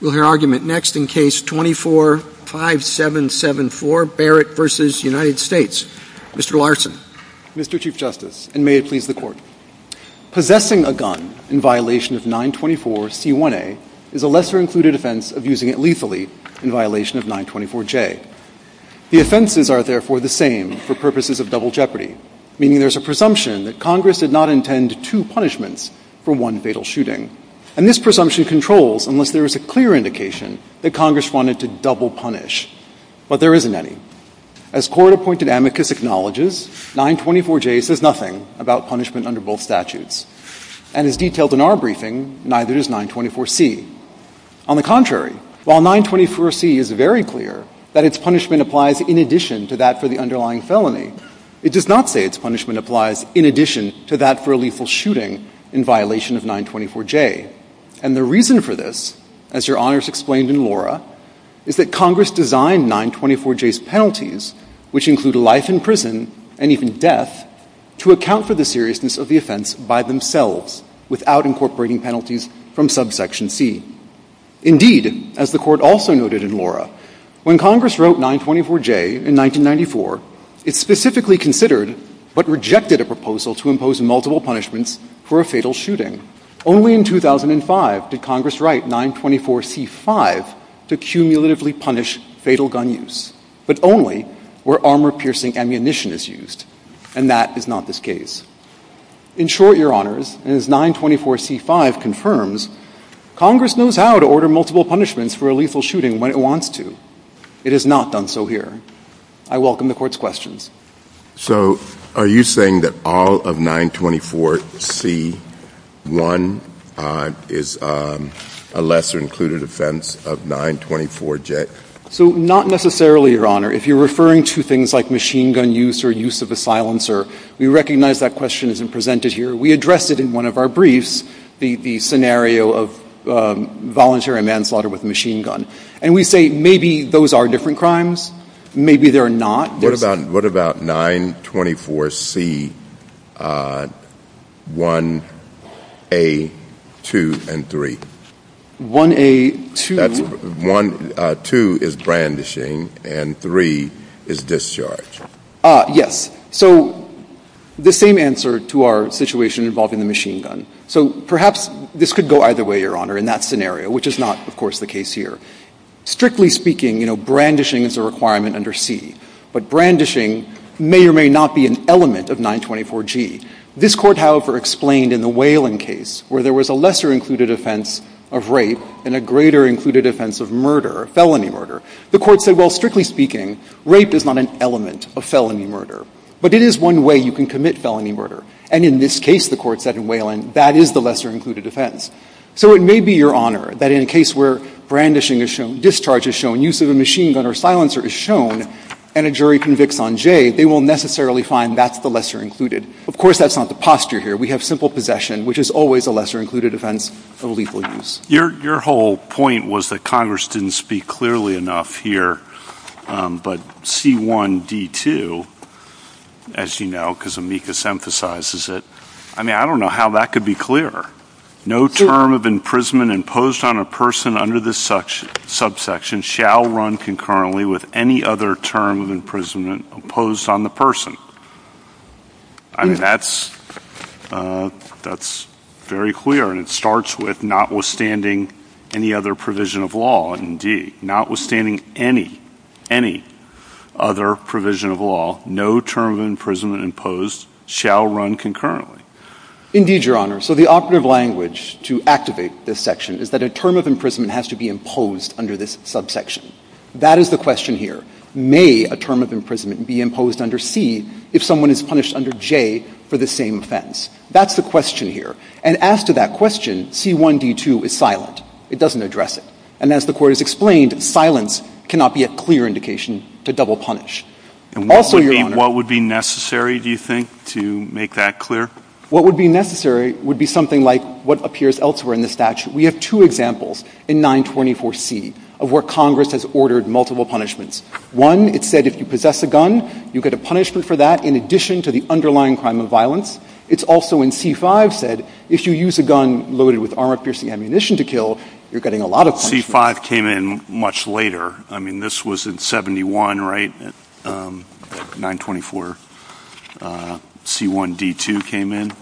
We'll hear argument next in Case 24-5774, Barrett v. United States. Mr. Larson. Mr. Chief Justice, and may it please the Court, possessing a gun in violation of 924C1A is a lesser-included offense of using it lethally in violation of 924J. The offenses are therefore the same for purposes of double jeopardy, meaning there's a presumption that Congress did not intend two punishments for one fatal shooting, and this presumption controls unless there is a clear indication that Congress wanted to double punish, but there isn't any. As Court-appointed amicus acknowledges, 924J says nothing about punishment under both statutes, and as detailed in our briefing, neither does 924C. On the contrary, while 924C is very clear that its punishment applies in addition to that for the underlying felony, it does not say its punishment applies in addition to that for a lethal shooting in violation of 924J. And the reason for this, as Your Honors explained in Laura, is that Congress designed 924J's penalties, which include life in prison and even death, to account for the seriousness of the offense by themselves without incorporating penalties from subsection C. Indeed, as the Court also noted in Laura, when Congress wrote 924J in 1994, it specifically considered, but rejected, a proposal to impose a penalty that would impose multiple punishments for a fatal shooting. Only in 2005 did Congress write 924C.5 to cumulatively punish fatal gun use, but only where armor-piercing ammunition is used, and that is not this case. In short, Your Honors, as 924C.5 confirms, Congress knows how to order multiple punishments for a lethal shooting when it wants to. It has not done so here. I welcome the Court's questions. So are you saying that all of 924C.1 is a lesser-included offense of 924J? So not necessarily, Your Honor. If you're referring to things like machine gun use or use of a silencer, we recognize that question isn't presented here. We addressed it in one of our briefs, the scenario of voluntary manslaughter with a machine gun. And we say maybe those are different crimes, maybe they're not. What about 924C.1A.2 and 3? 1A.2. That's 1. 2 is brandishing and 3 is discharge. Yes. So the same answer to our situation involving the machine gun. So perhaps this could go either way, Your Honor, in that scenario, which is not, of course, the case here. Strictly speaking, you know, brandishing is a requirement under C. But brandishing may or may not be an element of 924G. This Court, however, explained in the Whelan case where there was a lesser-included offense of rape and a greater-included offense of murder, felony murder. The Court said, well, strictly speaking, rape is not an element of felony murder. But it is one way you can commit felony murder. And in this case, the Court said in Whelan, that is the lesser-included offense. So it may be, Your Honor, that in a case where brandishing is shown, discharge is shown, use of a machine gun or silencer is shown, and a jury convicts on J, they will necessarily find that's the lesser-included. Of course, that's not the posture here. We have simple possession, which is always a lesser-included offense of lethal use. Your whole point was that Congress didn't speak clearly enough here, but C.1.D.2, as you know, because Amicus emphasizes it. I mean, I don't know how that could be clearer. No term of imprisonment imposed on a person under this subsection shall run concurrently with any other term of imprisonment imposed on the person. I mean, that's very clear, and it starts with notwithstanding any other provision of law, indeed. Notwithstanding any, any other provision of law, no term of imprisonment imposed shall run concurrently. Indeed, Your Honor. So the operative language to activate this section is that a term of imprisonment has to be imposed under this subsection. That is the question here. May a term of imprisonment be imposed under C if someone is punished under J for the same offense? That's the question here. And as to that question, C.1.D.2 is silent. It doesn't address it. And as the Court has explained, silence cannot be a clear indication to double punish. Also, Your Honor- What would be necessary, do you think, to make that clear? What would be necessary would be something like what appears elsewhere in the statute. We have two examples in 924C of where Congress has ordered multiple punishments. One, it said if you possess a gun, you get a punishment for that in addition to the underlying crime of violence. It's also in C.5 said, if you use a gun loaded with armor-piercing ammunition to kill, you're getting a lot of punishment. C.5 came in much later. I mean, this was in 71, right? 924C.1.D.2 came in?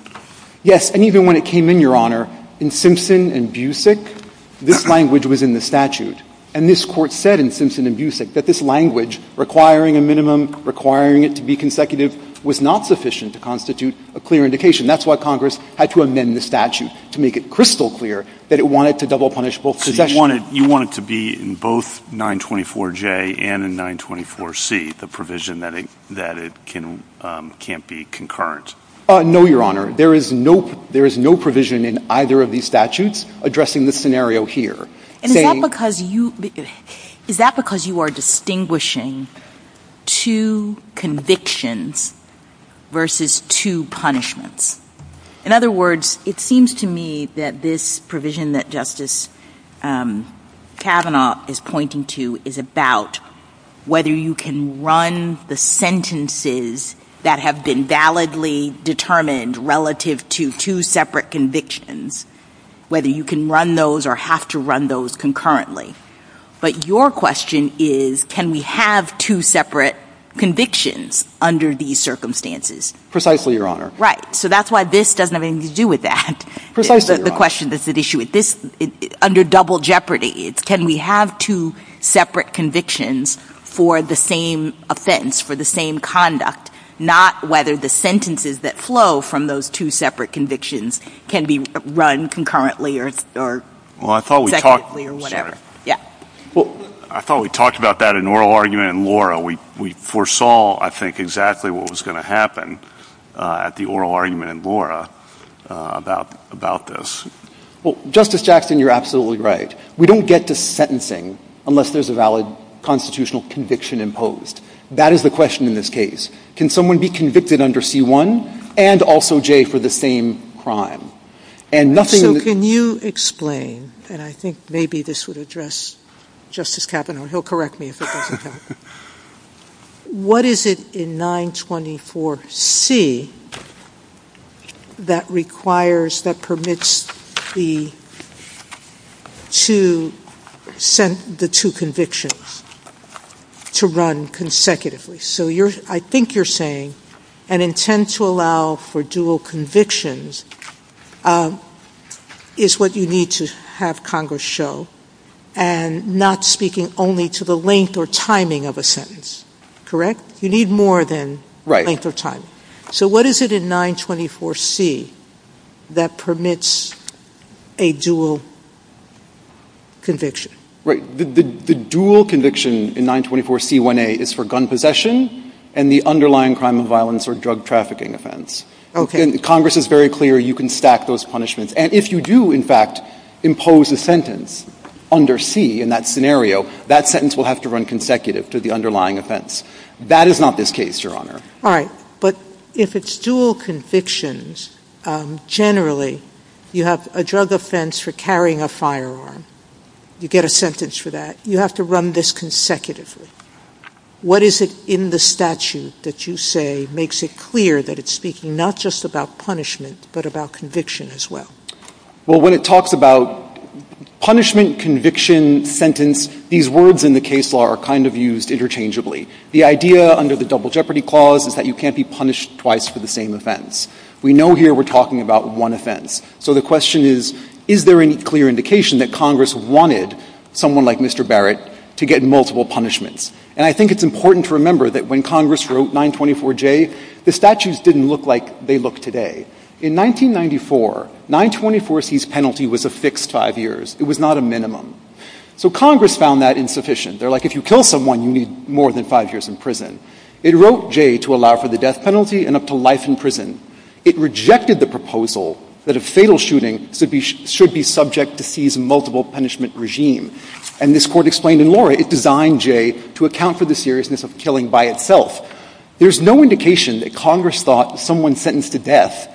Yes. And even when it came in, Your Honor, in Simpson and Busick, this language was in the statute. And this Court said in Simpson and Busick that this language, requiring a minimum, requiring it to be consecutive, was not sufficient to constitute a clear indication. That's why Congress had to amend the statute to make it crystal clear that it wanted to double punish both possessions. You want it to be in both 924J and in 924C, the provision that it can't be concurrent? No, Your Honor. There is no provision in either of these statutes addressing the scenario here. And is that because you are distinguishing two convictions versus two punishments? In other words, it seems to me that this provision that Justice Kavanaugh is pointing to is about whether you can run the sentences that have been validly determined relative to two separate convictions, whether you can run those or have to run those concurrently. But your question is, can we have two separate convictions under these circumstances? Precisely, Your Honor. Right. So that's why this doesn't have anything to do with that. Precisely, Your Honor. The question that's at issue with this, under double jeopardy, can we have two separate convictions for the same offense, for the same conduct, not whether the sentences that flow from those two separate convictions can be run concurrently or consecutively or whatever. Well, I thought we talked about that in oral argument in Laura. We foresaw, I think, exactly what was going to happen at the oral argument in Laura about this. Well, Justice Jackson, you're absolutely right. We don't get to sentencing unless there's a valid constitutional conviction imposed. That is the question in this case. Can someone be convicted under C-1 and also J for the same crime? And nothing... So can you explain, and I think maybe this would address Justice Kavanaugh. He'll correct me if it doesn't help. What is it in 924C that requires, that permits the two convictions to run consecutively? So I think you're saying an intent to allow for dual convictions is what you need to have Congress show and not speaking only to the length or timing of a sentence, correct? You need more than length or timing. So what is it in 924C that permits a dual conviction? Right. The dual conviction in 924C1A is for gun possession and the underlying crime of violence or drug trafficking offense. Okay. And Congress is very clear you can stack those punishments. And if you do, in fact, impose a sentence under C in that scenario, that sentence will have to run consecutive to the underlying offense. That is not this case, Your Honor. All right. But if it's dual convictions, generally you have a drug offense for carrying a firearm. You get a sentence for that. You have to run this consecutively. What is it in the statute that you say makes it clear that it's speaking not just about punishment, but about conviction as well? Well, when it talks about punishment, conviction, sentence, these words in the case law are kind of used interchangeably. The idea under the double jeopardy clause is that you can't be punished twice for the same offense. We know here we're talking about one offense. So the question is, is there any clear indication that Congress wanted someone like Mr. Barrett to get multiple punishments? And I think it's important to remember that when Congress wrote 924J, the statutes didn't look like they look today. In 1994, 924C's penalty was a fixed five years. It was not a minimum. So Congress found that insufficient. They're like, if you kill someone, you need more than five years in prison. It wrote J to allow for the death penalty and up to life in prison. It rejected the proposal that a fatal shooting should be subject to C's multiple punishment regime. And this Court explained in Laura, it designed J to account for the seriousness of killing by itself. There's no indication that Congress thought someone sentenced to death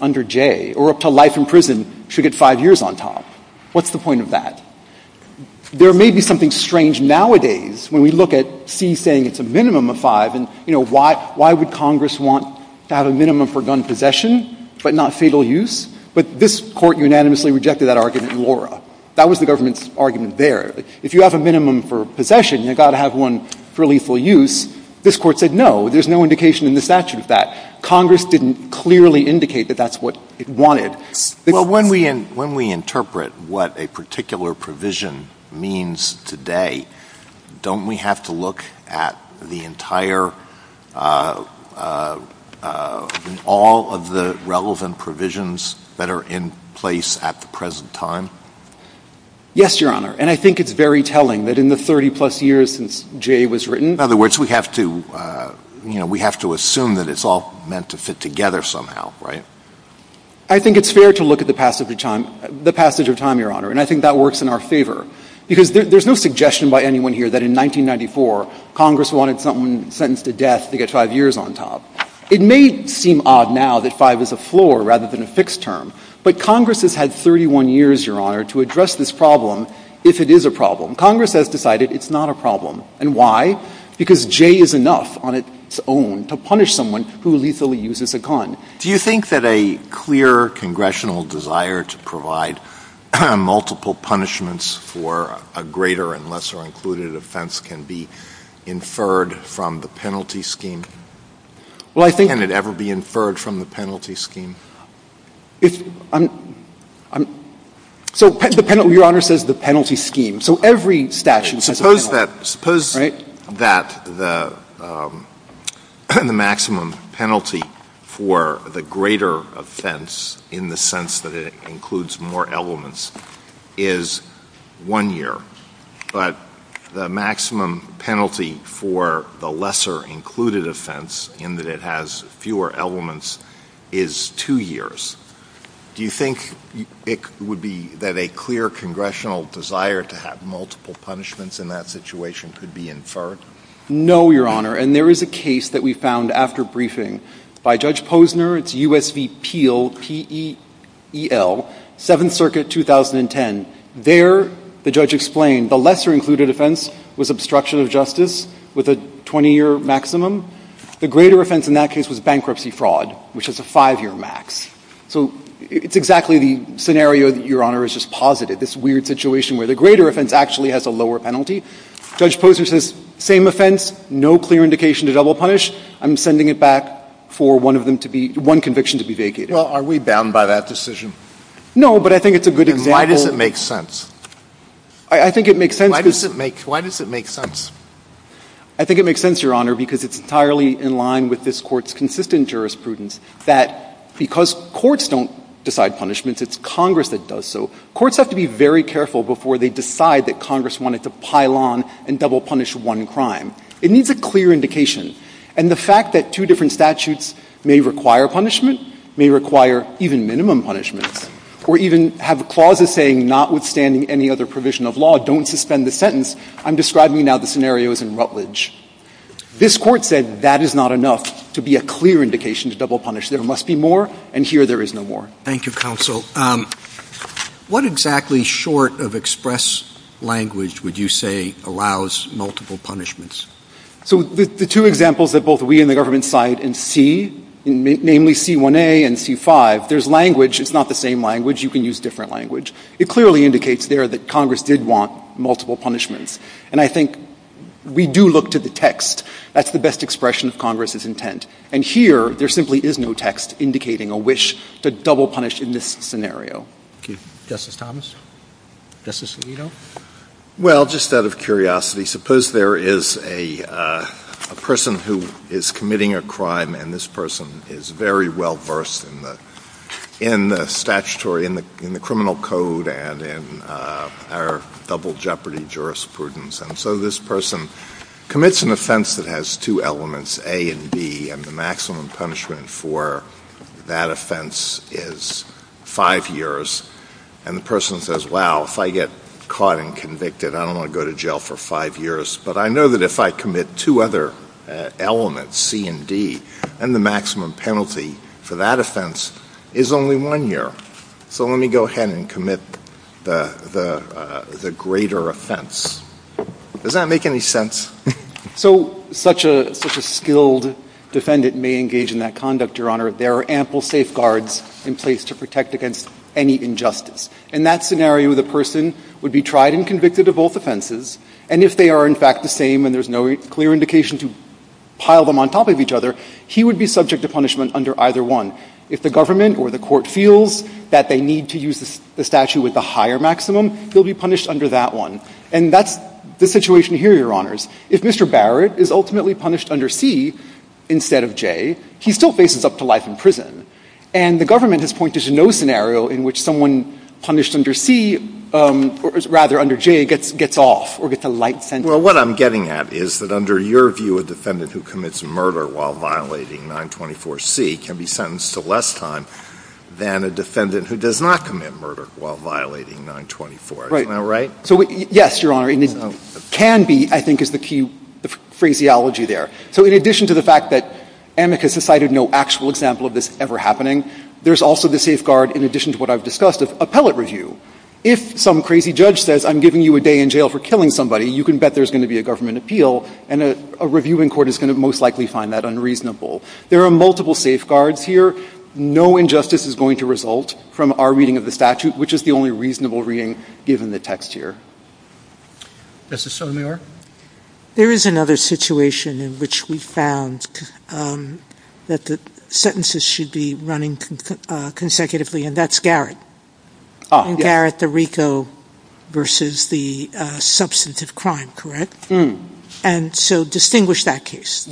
under J or up to life in prison should get five years on top. What's the point of that? There may be something strange nowadays when we look at C saying it's a minimum of five and, you know, why would Congress want to have a minimum for gun possession but not fatal use? But this Court unanimously rejected that argument in Laura. That was the government's argument there. If you have a minimum for possession, you've got to have one for lethal use. This Court said no, there's no indication in the statute of that. Congress didn't clearly indicate that that's what it wanted. Well, when we interpret what a particular provision means today, don't we have to look at the entire, all of the relevant provisions that are in place at the present time? Yes, Your Honor. And I think it's very telling that in the 30-plus years since J was written. In other words, we have to, you know, we have to assume that it's all meant to fit together somehow, right? I think it's fair to look at the passage of time, Your Honor, and I think that works in our favor because there's no suggestion by anyone here that in 1994, Congress wanted someone sentenced to death to get five years on top. It may seem odd now that five is a floor rather than a fixed term, but Congress has had 31 years, Your Honor, to address this problem if it is a problem. Congress has decided it's not a problem. And why? Because J is enough on its own to punish someone who lethally uses a con. Do you think that a clear congressional desire to provide multiple punishments for a greater and lesser included offense can be inferred from the penalty scheme? Well, I think — Can it ever be inferred from the penalty scheme? If — so the penalty — Your Honor says the penalty scheme. So every statute has a penalty. Suppose that — suppose that the maximum penalty for the greater offense, in the sense that it includes more elements, is one year, but the maximum penalty for the lesser included offense, in that it has fewer elements, is two years. Do you think it would be — that a clear congressional desire to have multiple punishments in that situation could be inferred? No, Your Honor. And there is a case that we found after briefing by Judge Posner. It's U.S. v. Peel, P-E-E-L, Seventh Circuit, 2010. There, the judge explained, the lesser included offense was obstruction of justice with a 20-year maximum. The greater offense in that case was bankruptcy fraud, which has a five-year max. So it's exactly the scenario that Your Honor has just posited, this weird situation where the greater offense actually has a lower penalty. Judge Posner says, same offense, no clear indication to double punish. I'm sending it back for one of them to be — one conviction to be vacated. Well, are we bound by that decision? No, but I think it's a good example. Then why does it make sense? I think it makes sense because — Why does it make — why does it make sense? I think it makes sense, Your Honor, because it's entirely in line with this Court's consistent jurisprudence that because courts don't decide punishments, it's Congress that does so. Courts have to be very careful before they decide that Congress wanted to pile on and double punish one crime. It needs a clear indication. And the fact that two different statutes may require punishment, may require even minimum punishment, or even have clauses saying notwithstanding any other provision of law, don't suspend the sentence, I'm describing now the scenarios in Rutledge. This Court said that is not enough to be a clear indication to double punish. There must be more, and here there is no more. Thank you, Counsel. What exactly, short of express language, would you say allows multiple punishments? So the two examples that both we and the government cite in C, namely C1a and C5, there's language. It's not the same language. You can use different language. It clearly indicates there that Congress did want multiple punishments. And I think we do look to the text. That's the best expression of Congress's intent. And here, there simply is no text indicating a wish to double punish in this scenario. Thank you. Justice Thomas? Justice Alito? Well, just out of curiosity, suppose there is a person who is committing a crime, and this person is very well versed in the statutory, in the criminal code, and in our double jeopardy jurisprudence. And so this person commits an offense that has two elements, A and B, and the maximum punishment for that offense is five years. And the person says, wow, if I get caught and convicted, I don't want to go to jail for five years. But I know that if I commit two other elements, C and D, and the maximum penalty for that offense is only one year. So let me go ahead and commit the greater offense. Does that make any sense? So such a skilled defendant may engage in that conduct, Your Honor. There are ample safeguards in place to protect against any injustice. In that scenario, the person would be tried and convicted of both offenses. And if they are in fact the same and there's no clear indication to pile them on top of each other, he would be subject to punishment under either one. If the government or the court feels that they need to use the statute with the higher maximum, he'll be punished under that one. And that's the situation here, Your Honors. If Mr. Barrett is ultimately punished under C instead of J, he still faces up to life in prison. And the government has pointed to no scenario in which someone punished under C, or rather under J, gets off or gets a light sentence. Well, what I'm getting at is that under your view, a defendant who commits murder while violating 924C can be sentenced to less time than a defendant who does not commit murder while violating 924. Right. Isn't that right? So, yes, Your Honor, and it can be, I think, is the key phraseology there. So in addition to the fact that Amicus has cited no actual example of this ever happening, there's also the safeguard, in addition to what I've discussed, of appellate review. If some crazy judge says, I'm giving you a day in jail for killing somebody, you can bet there's going to be a government appeal, and a reviewing court is going to most likely find that unreasonable. There are multiple safeguards here. No injustice is going to result from our reading of the statute, which is the only reasonable reading given the text here. Justice Sotomayor? There is another situation in which we found that the sentences should be running consecutively, and that's Garrett. Oh, yes. And Garrett, the RICO, versus the substantive crime, correct? And so distinguish that case.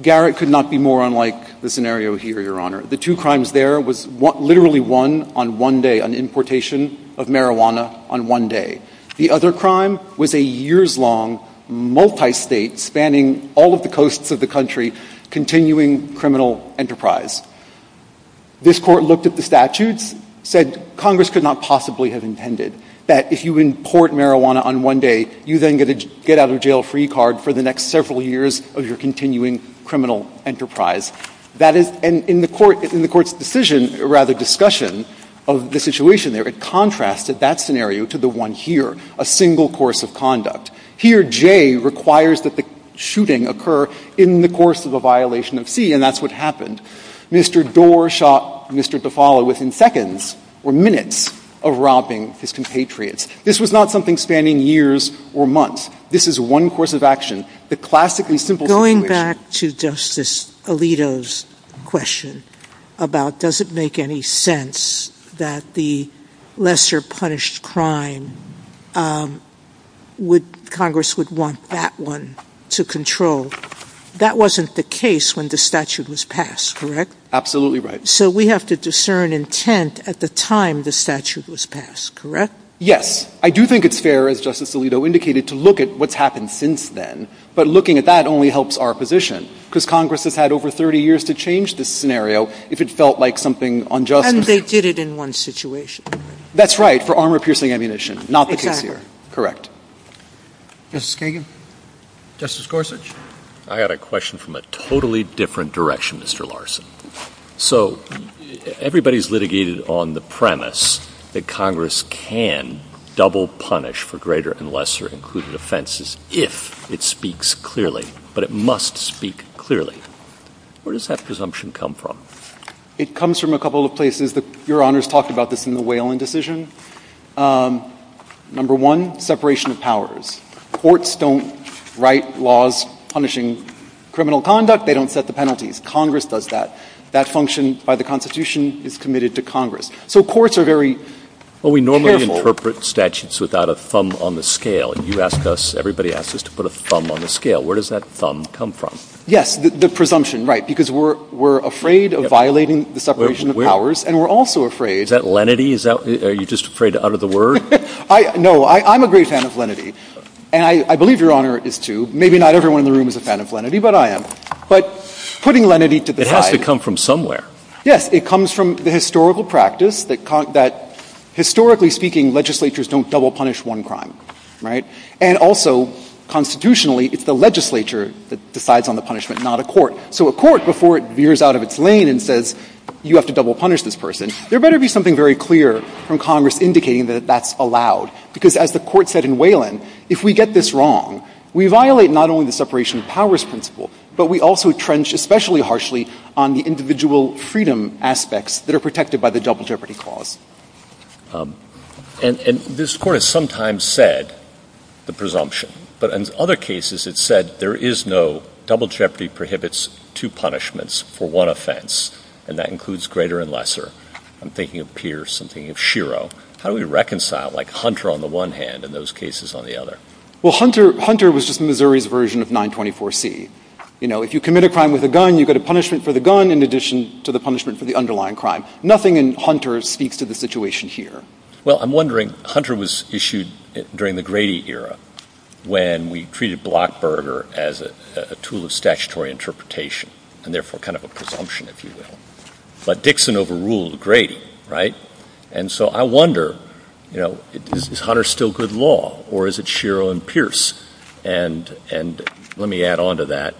Garrett could not be more unlike the scenario here, Your Honor. The two crimes there was literally one on one day, an importation of marijuana on one day. The other crime was a years-long, multi-state, spanning all of the coasts of the country, continuing criminal enterprise. This Court looked at the statutes, said Congress could not possibly have intended that if you import marijuana on one day, you then get out of jail free card for the next several years of your continuing criminal enterprise. That is and in the Court's decision, or rather discussion of the situation there, it contrasted that scenario to the one here, a single course of conduct. Here, J requires that the shooting occur in the course of a violation of C, and that's what happened. Mr. Doar shot Mr. Tufalo within seconds or minutes of robbing his compatriots. This was not something spanning years or months. This is one course of action. The classically simple situation. Going back to Justice Alito's question about does it make any sense that the lesser punished crime would Congress would want that one to control, that wasn't the case when the statute was passed, correct? Absolutely right. So we have to discern intent at the time the statute was passed, correct? Yes. I do think it's fair, as Justice Alito indicated, to look at what's happened since then. But looking at that only helps our position, because Congress has had over 30 years to change this scenario if it felt like something unjust. And they did it in one situation. That's right, for armor-piercing ammunition, not the case here. Correct. Justice Kagan. Justice Gorsuch. I had a question from a totally different direction, Mr. Larson. So everybody's litigated on the premise that Congress can double punish for greater and lesser-included offenses if it speaks clearly, but it must speak clearly. Where does that presumption come from? It comes from a couple of places. Your Honor's talked about this in the Whalen decision. Number one, separation of powers. Courts don't write laws punishing criminal conduct. They don't set the penalties. Congress does that. That function by the Constitution is committed to Congress. So courts are very careful. Well, we normally interpret statutes without a thumb on the scale. And you ask us, everybody asks us to put a thumb on the scale. Where does that thumb come from? Yes, the presumption, right. Because we're afraid of violating the separation of powers, and we're also afraid. Is that lenity? Are you just afraid to utter the word? No. I'm a great fan of lenity. And I believe Your Honor is, too. Maybe not everyone in the room is a fan of lenity, but I am. But putting lenity to the side. It has to come from somewhere. Yes. It comes from the historical practice that, historically speaking, legislatures don't double punish one crime, right. And also, constitutionally, it's the legislature that decides on the punishment, not a court. So a court, before it veers out of its lane and says, you have to double punish this person, there better be something very clear from Congress indicating that that's allowed. Because as the Court said in Whalen, if we get this wrong, we violate not only the separation of powers principle, but we also trench especially harshly on the individual freedom aspects that are protected by the double jeopardy clause. And this Court has sometimes said the presumption. But in other cases, it said there is no double jeopardy prohibits two punishments for one offense. And that includes greater and lesser. I'm thinking of Pierce. I'm thinking of Shiro. How do we reconcile, like Hunter on the one hand and those cases on the other? Well, Hunter was just Missouri's version of 924C. You know, if you commit a crime with a gun, you get a punishment for the gun in addition to the punishment for the underlying crime. Nothing in Hunter speaks to the situation here. Well, I'm wondering, Hunter was issued during the Grady era when we treated Blockburger as a tool of statutory interpretation and therefore kind of a presumption, if you will. But Dixon overruled Grady, right? And so I wonder, you know, is Hunter still good law or is it Shiro and Pierce? And let me add on to that.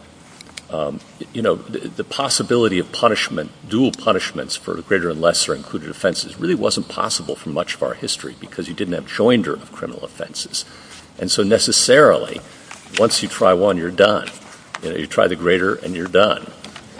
You know, the possibility of punishment, dual punishments for greater and lesser included offenses really wasn't possible for much of our history because you didn't have joinder of criminal offenses. And so necessarily, once you try one, you're done. You try the greater and you're done.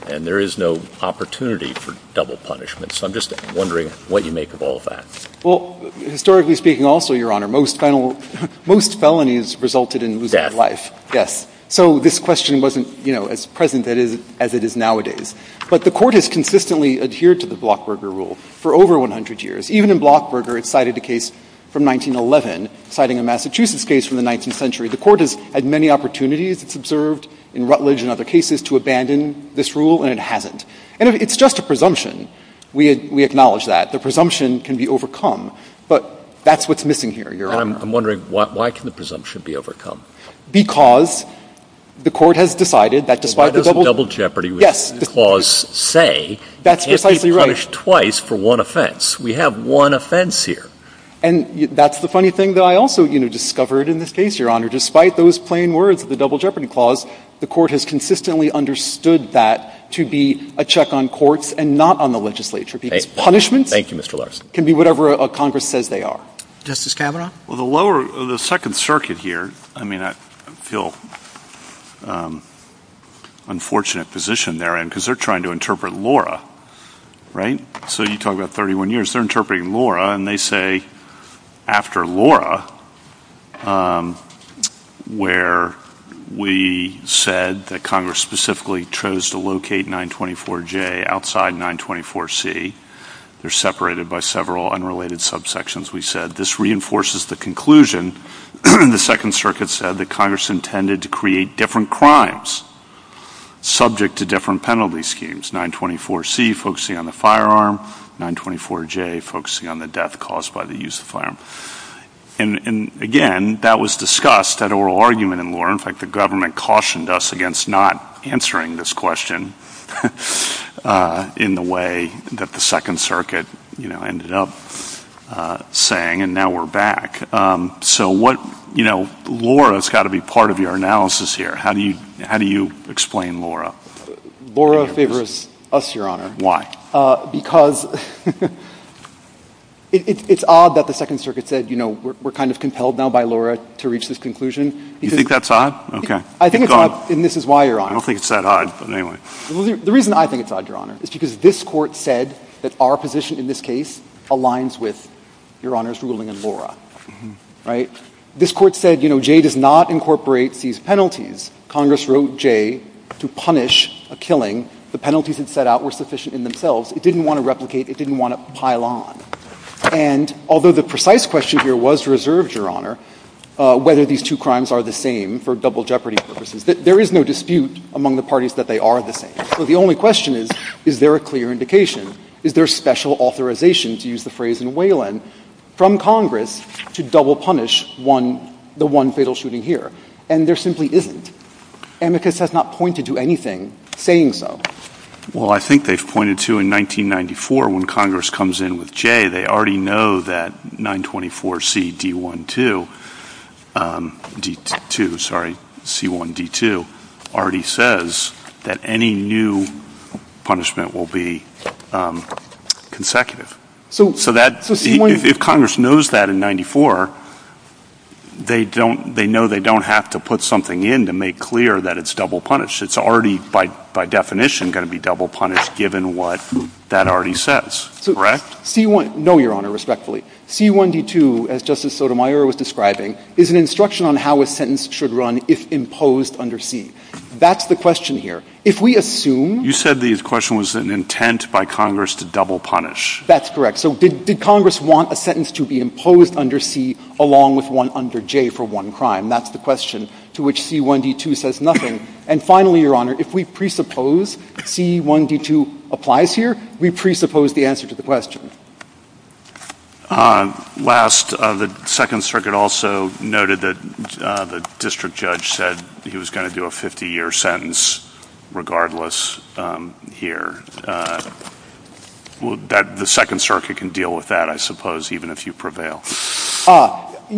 And there is no opportunity for double punishment. So I'm just wondering what you make of all of that. Well, historically speaking also, Your Honor, most felonies resulted in losing their life. Yes. So this question wasn't, you know, as present as it is nowadays. But the Court has consistently adhered to the Blockburger rule for over 100 years. Even in Blockburger, it cited a case from 1911, citing a Massachusetts case from the 19th century. The Court has had many opportunities, it's observed in Rutledge and other cases, to abandon this rule, and it hasn't. And it's just a presumption. We acknowledge that. The presumption can be overcome, but that's what's missing here, Your Honor. I'm wondering, why can the presumption be overcome? Because the Court has decided that despite the double jeopardy clause say, you can't be punished twice for one offense. We have one offense here. And that's the funny thing that I also, you know, discovered in this case, Your Honor. Despite those plain words of the double jeopardy clause, the Court has consistently understood that to be a check on courts and not on the legislature. Because punishments can be whatever Congress says they are. Justice Kavanaugh? Well, the lower, the Second Circuit here, I mean, I feel unfortunate position they're in, because they're trying to interpret Laura, right? So you talk about 31 years. They're interpreting Laura, and they say, after Laura, where we said that Congress specifically chose to locate 924J outside 924C, they're separated by several unrelated subsections. We said, this reinforces the conclusion the Second Circuit said that Congress intended to create different crimes subject to different penalty schemes. 924C, focusing on the firearm. 924J, focusing on the death caused by the use of the firearm. And again, that was discussed at oral argument in Laura. In fact, the government cautioned us against not answering this question in the way that the Second Circuit ended up saying, and now we're back. So Laura's got to be part of your analysis here. How do you explain Laura? Laura favors us, Your Honor. Why? Because it's odd that the Second Circuit said, we're kind of compelled now by Laura to reach this conclusion. You think that's odd? OK. I think it's odd, and this is why, Your Honor. I don't think it's that odd, but anyway. The reason I think it's odd, Your Honor, is because this Court said that our position in this case aligns with Your Honor's ruling in Laura, right? This Court said, you know, J does not incorporate these penalties. Congress wrote J to punish a killing. The penalties it set out were sufficient in themselves. It didn't want to replicate. It didn't want to pile on. And although the precise question here was reserved, Your Honor, whether these two crimes are the same for double jeopardy purposes, there is no dispute among the parties that they are the same. So the only question is, is there a clear indication? Is there special authorization, to use the phrase in Whalen, from Congress to double punish the one fatal shooting here? And there simply isn't. Amicus has not pointed to anything saying so. Well, I think they've pointed to, in 1994, when Congress comes in with J, they already know that 924C1D2 already says that any new punishment will be consecutive. So if Congress knows that in 94, they know they don't have to put something in to make clear that it's double punished. It's already, by definition, going to be double punished, given what that already says. Correct? C1 — no, Your Honor, respectfully. C1D2, as Justice Sotomayor was describing, is an instruction on how a sentence should run if imposed under C. That's the question here. If we assume — You said the question was an intent by Congress to double punish. That's correct. So did Congress want a sentence to be imposed under C, along with one under J for one crime? That's the question to which C1D2 says nothing. And finally, Your Honor, if we presuppose C1D2 applies here, we presuppose the answer to the question. Last, the Second Circuit also noted that the district judge said he was going to do a 50-year sentence regardless here. The Second Circuit can deal with that, I suppose, even if you prevail.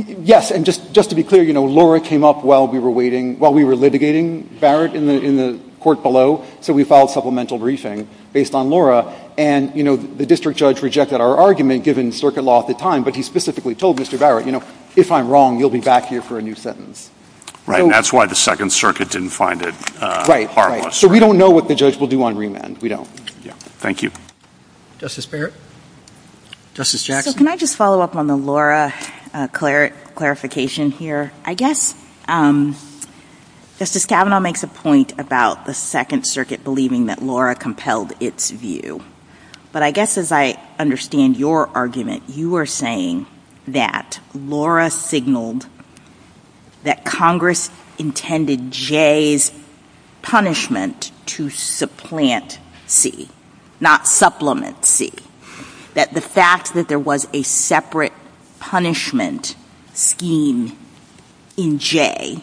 Yes. And just to be clear, you know, Laura came up while we were waiting — while we were litigating Barrett in the court below. So we filed supplemental briefing based on Laura. And, you know, the district judge rejected our argument given circuit law at the time, but he specifically told Mr. Barrett, you know, if I'm wrong, you'll be back here for a new sentence. Right. And that's why the Second Circuit didn't find it harmless. So we don't know what the judge will do on remand. We don't. Yeah. Thank you. Justice Barrett. Justice Jackson. So can I just follow up on the Laura clarification here? I guess Justice Kavanaugh makes a point about the Second Circuit believing that Laura compelled its view. But I guess as I understand your argument, you are saying that Laura signaled that Congress intended Jay's punishment to supplant C, not supplement C. That the fact that there was a separate punishment scheme in Jay,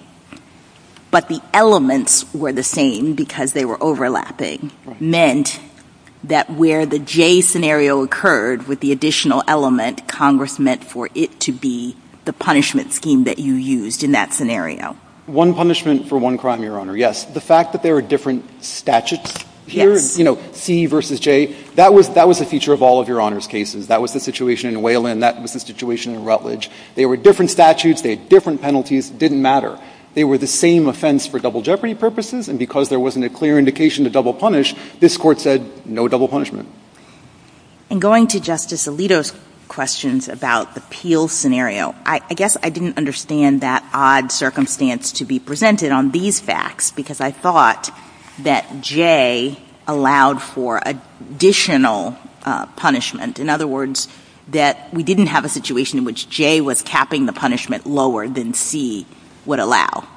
but the elements were the same because they were overlapping, meant that where the Jay scenario occurred with the additional element, Congress meant for it to be the punishment scheme that you used in that scenario. One punishment for one crime, Your Honor. Yes. The fact that there are different statutes here, you know, C versus Jay, that was a feature of all of Your Honor's cases. That was the situation in Wayland. That was the situation in Rutledge. They were different statutes. They had different penalties. Didn't matter. They were the same offense for double jeopardy purposes. And because there wasn't a clear indication to double punish, this Court said no double punishment. And going to Justice Alito's questions about the Peel scenario, I guess I didn't understand that odd circumstance to be presented on these facts, because I thought that Jay allowed for additional punishment. In other words, that we didn't have a situation in which Jay was capping the punishment lower than C would allow.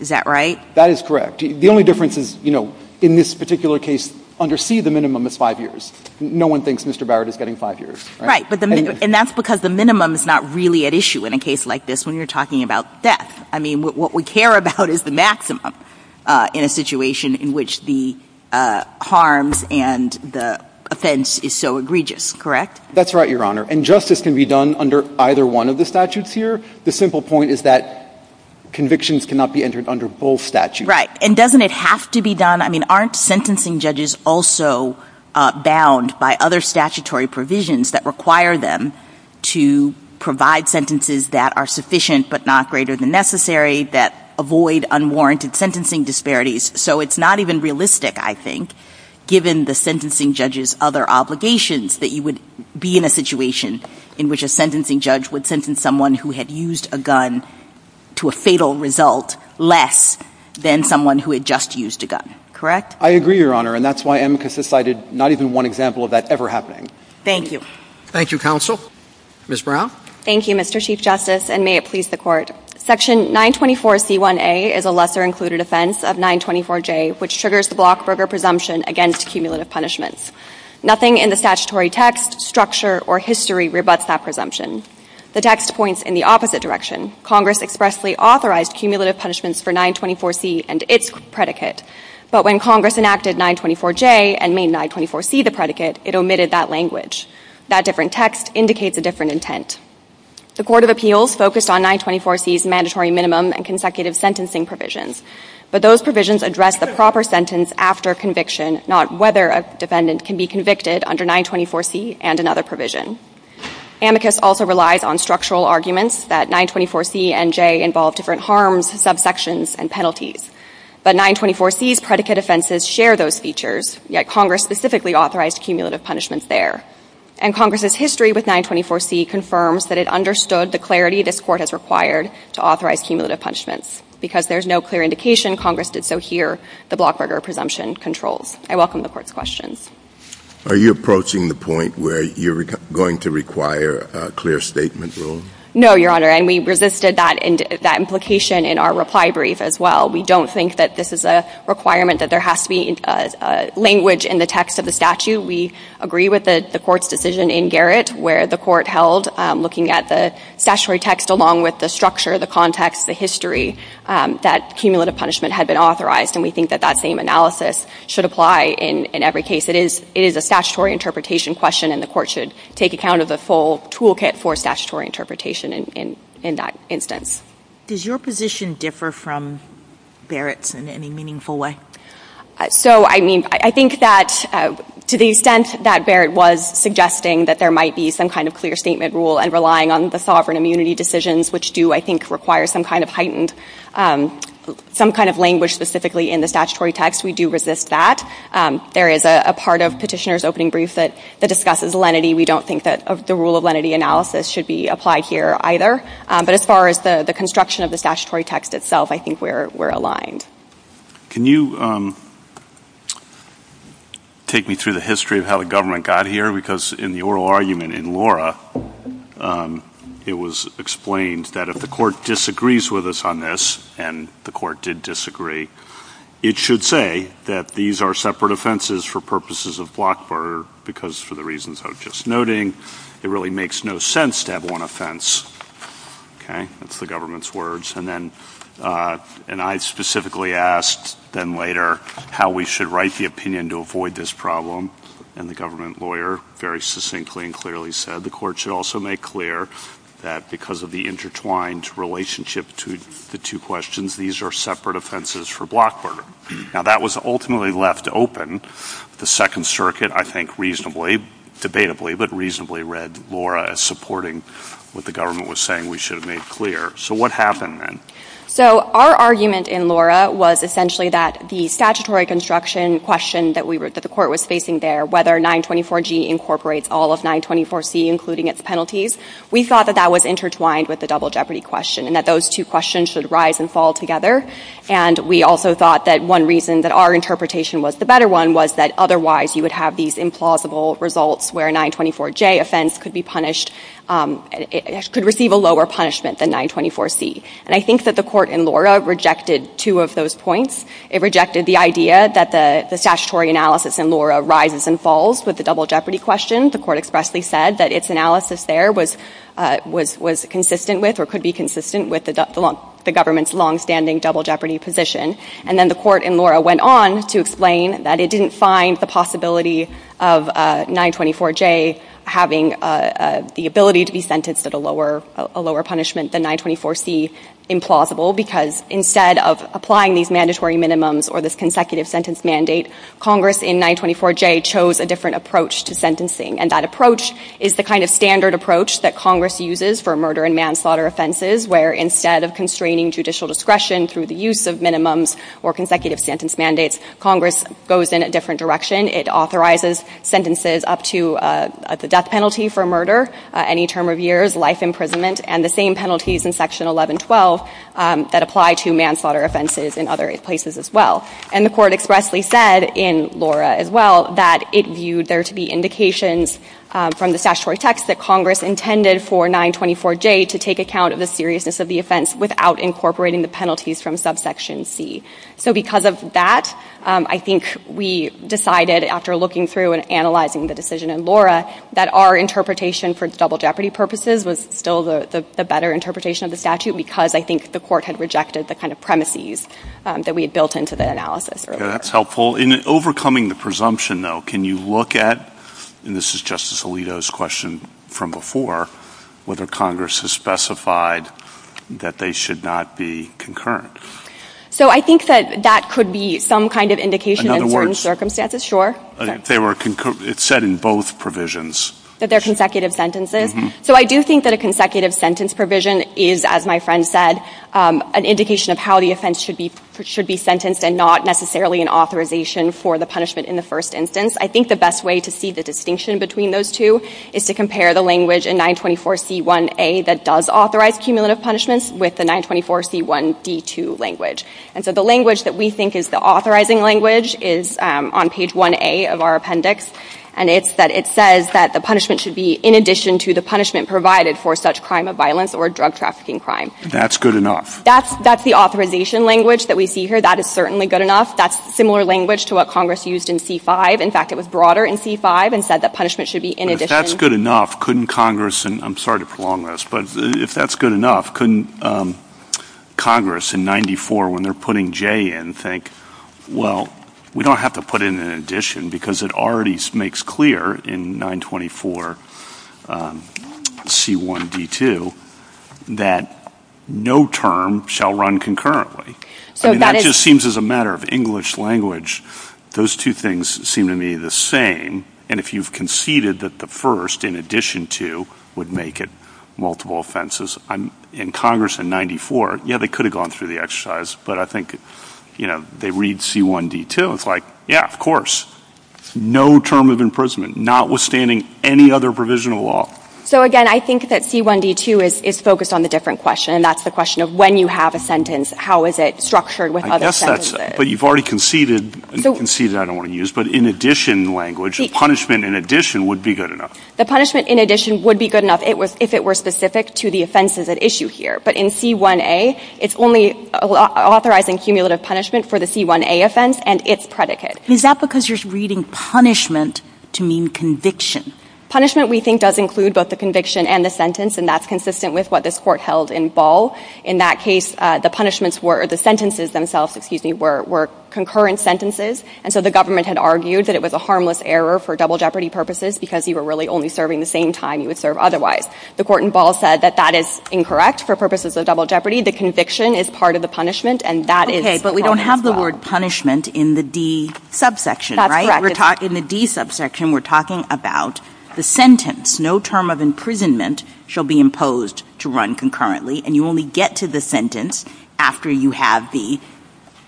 Is that right? That is correct. The only difference is, you know, in this particular case, under C, the minimum is 5 years. No one thinks Mr. Barrett is getting 5 years. Right. And that's because the minimum is not really at issue in a case like this when you're talking about death. I mean, what we care about is the maximum in a situation in which the harms and the offense is so egregious, correct? That's right, Your Honor. And justice can be done under either one of the statutes here. The simple point is that convictions cannot be entered under both statutes. Right. And doesn't it have to be done? I mean, aren't sentencing judges also bound by other statutory provisions that require them to provide sentences that are sufficient but not greater than necessary, that avoid unwarranted sentencing disparities? So it's not even realistic, I think, given the sentencing judge's other obligations, that you would be in a situation in which a sentencing judge would sentence someone who had used a gun to a fatal result less than someone who had just used a gun, correct? I agree, Your Honor. And that's why AMCUS has cited not even one example of that ever happening. Thank you. Thank you, counsel. Ms. Brown? Thank you, Mr. Chief Justice, and may it please the court. Section 924C1A is a lesser included offense of 924J, which triggers the Blockberger presumption against cumulative punishments. Nothing in the statutory text, structure, or history rebuts that presumption. The text points in the opposite direction. Congress expressly authorized cumulative punishments for 924C and its predicate. But when Congress enacted 924J and made 924C the predicate, it omitted that language. That different text indicates a different intent. The Court of Appeals focused on 924C's mandatory minimum and consecutive sentencing provisions. But those provisions address the proper sentence after conviction, not whether a defendant can be convicted under 924C and another provision. AMCUS also relies on structural arguments that 924C and J involve different harms, subsections, and penalties. But 924C's predicate offenses share those features, yet Congress specifically authorized cumulative punishments there. And Congress's history with 924C confirms that it understood the clarity this court has required to authorize cumulative punishments. Because there's no clear indication, Congress did so here, the Blockberger presumption controls. I welcome the court's questions. Are you approaching the point where you're going to require a clear statement rule? No, Your Honor, and we resisted that implication in our reply brief as well. We don't think that this is a requirement that there has to be language in the text of the statute. We agree with the court's decision in Garrett, where the court held, looking at the statutory text along with the structure, the context, the history, that cumulative punishment had been authorized. And we think that that same analysis should apply in every case. It is a statutory interpretation question, and the court should take account of the full toolkit for statutory interpretation in that instance. Does your position differ from Barrett's in any meaningful way? So, I mean, I think that to the extent that Barrett was suggesting that there might be some kind of clear statement rule and relying on the sovereign immunity decisions, which do, I think, require some kind of heightened, some kind of language specifically in the statutory text, we do resist that. There is a part of petitioner's opening brief that discusses lenity. We don't think that the rule of lenity analysis should be applied here either. But as far as the construction of the statutory text itself, I think we're aligned. Can you take me through the history of how the government got here? Because in the oral argument in Laura, it was explained that if the court disagrees with us on this, and the court did disagree, it should say that these are separate offenses for purposes of block barter because for the reasons I was just noting, it really makes no sense to have one offense. Okay? That's the government's words. And then, and I specifically asked then later how we should write the opinion and to avoid this problem. And the government lawyer very succinctly and clearly said the court should also make clear that because of the intertwined relationship to the two questions, these are separate offenses for block barter. Now, that was ultimately left open. The Second Circuit, I think, reasonably, debatably, but reasonably, read Laura as supporting what the government was saying we should have made clear. So, what happened then? So, our argument in Laura was essentially that the statutory construction question that the court was facing there, whether 924G incorporates all of 924C, including its penalties, we thought that that was intertwined with the double jeopardy question and that those two questions should rise and fall together. And we also thought that one reason that our interpretation was the better one was that otherwise you would have these implausible results where a 924J offense could be punished, could receive a lower punishment than 924C. And I think that the court in Laura rejected two of those points. It rejected the idea that the statutory analysis in Laura rises and falls with the double jeopardy question. The court expressly said that its analysis there was consistent with or could be consistent with the government's longstanding double jeopardy position. And then the court in Laura went on to explain that it didn't find the possibility of 924J having the ability to be sentenced at a lower punishment than 924C implausible because instead of applying these mandatory minimums or this consecutive sentence mandate, Congress in 924J chose a different approach to sentencing. And that approach is the kind of standard approach that Congress uses for murder and manslaughter offenses where instead of constraining judicial discretion through the use of minimums or consecutive sentence mandates, Congress goes in a different direction. It authorizes sentences up to the death penalty for murder, any term of years, life imprisonment, and the same penalties in section 1112 that apply to manslaughter offenses in other places as well. And the court expressly said in Laura as well that it viewed there to be indications from the statutory text that Congress intended for 924J to take account of the seriousness of the offense without incorporating the penalties from subsection C. So because of that, I think we decided after looking through and analyzing the decision in Laura that our interpretation for double jeopardy purposes was still the better interpretation of the statute because I think the court had rejected the kind of premises that we had built into the analysis. Okay, that's helpful. In overcoming the presumption though, can you look at, and this is Justice Alito's question from before, whether Congress has specified that they should not be concurrent? So I think that that could be some kind of indication in certain circumstances, sure. They were, it said in both provisions. That they're consecutive sentences. So I do think that a consecutive sentence provision is, as my friend said, an indication of how the offense should be sentenced and not necessarily an authorization for the punishment in the first instance. I think the best way to see the distinction between those two is to compare the language in 924C1A that does authorize cumulative punishments with the 924C1D2 language. And so the language that we think is the authorizing language is on page 1A of our appendix and it's that it says that the punishment should be in addition to the punishment provided for such crime of violence or drug trafficking crime. That's good enough. That's the authorization language that we see here. That is certainly good enough. That's similar language to what Congress used in C5. In fact, it was broader in C5 and said that punishment should be in addition. If that's good enough, couldn't Congress, and I'm sorry to prolong this, but if that's good enough, couldn't Congress in 94 when they're putting J in think, well, we don't have to put in an addition because it already makes clear in 924C1D2 that no term shall run concurrently. I mean, that just seems as a matter of English language. Those two things seem to me the same. And if you've conceded that the first in addition to would make it multiple offenses, in Congress in 94, yeah, they could have gone through the exercise. But I think, you know, they read C1D2, it's like, yeah, of course, no term of imprisonment, notwithstanding any other provision of law. So again, I think that C1D2 is focused on the different question and that's the question of when you have a sentence, how is it structured with other sentences. I guess that's, but you've already conceded, and conceded I don't want to use, but in addition language, punishment in addition would be good enough. The punishment in addition would be good enough if it were specific to the offenses at issue here. But in C1A, it's only authorizing cumulative punishment for the C1A offense and its predicate. Is that because you're reading punishment to mean conviction? Punishment, we think, does include both the conviction and the sentence, and that's consistent with what this court held in Ball. In that case, the punishments were, the sentences themselves, excuse me, were concurrent sentences. And so the government had argued that it was a harmless error for double jeopardy purposes because you were really only serving the same time you would serve otherwise. The court in Ball said that that is incorrect for purposes of double jeopardy. The conviction is part of the punishment and that is its promise, as well. Okay, but we don't have the word punishment in the D subsection, right? That's correct. In the D subsection, we're talking about the sentence, no term of imprisonment shall be imposed to run concurrently. And you only get to the sentence after you have the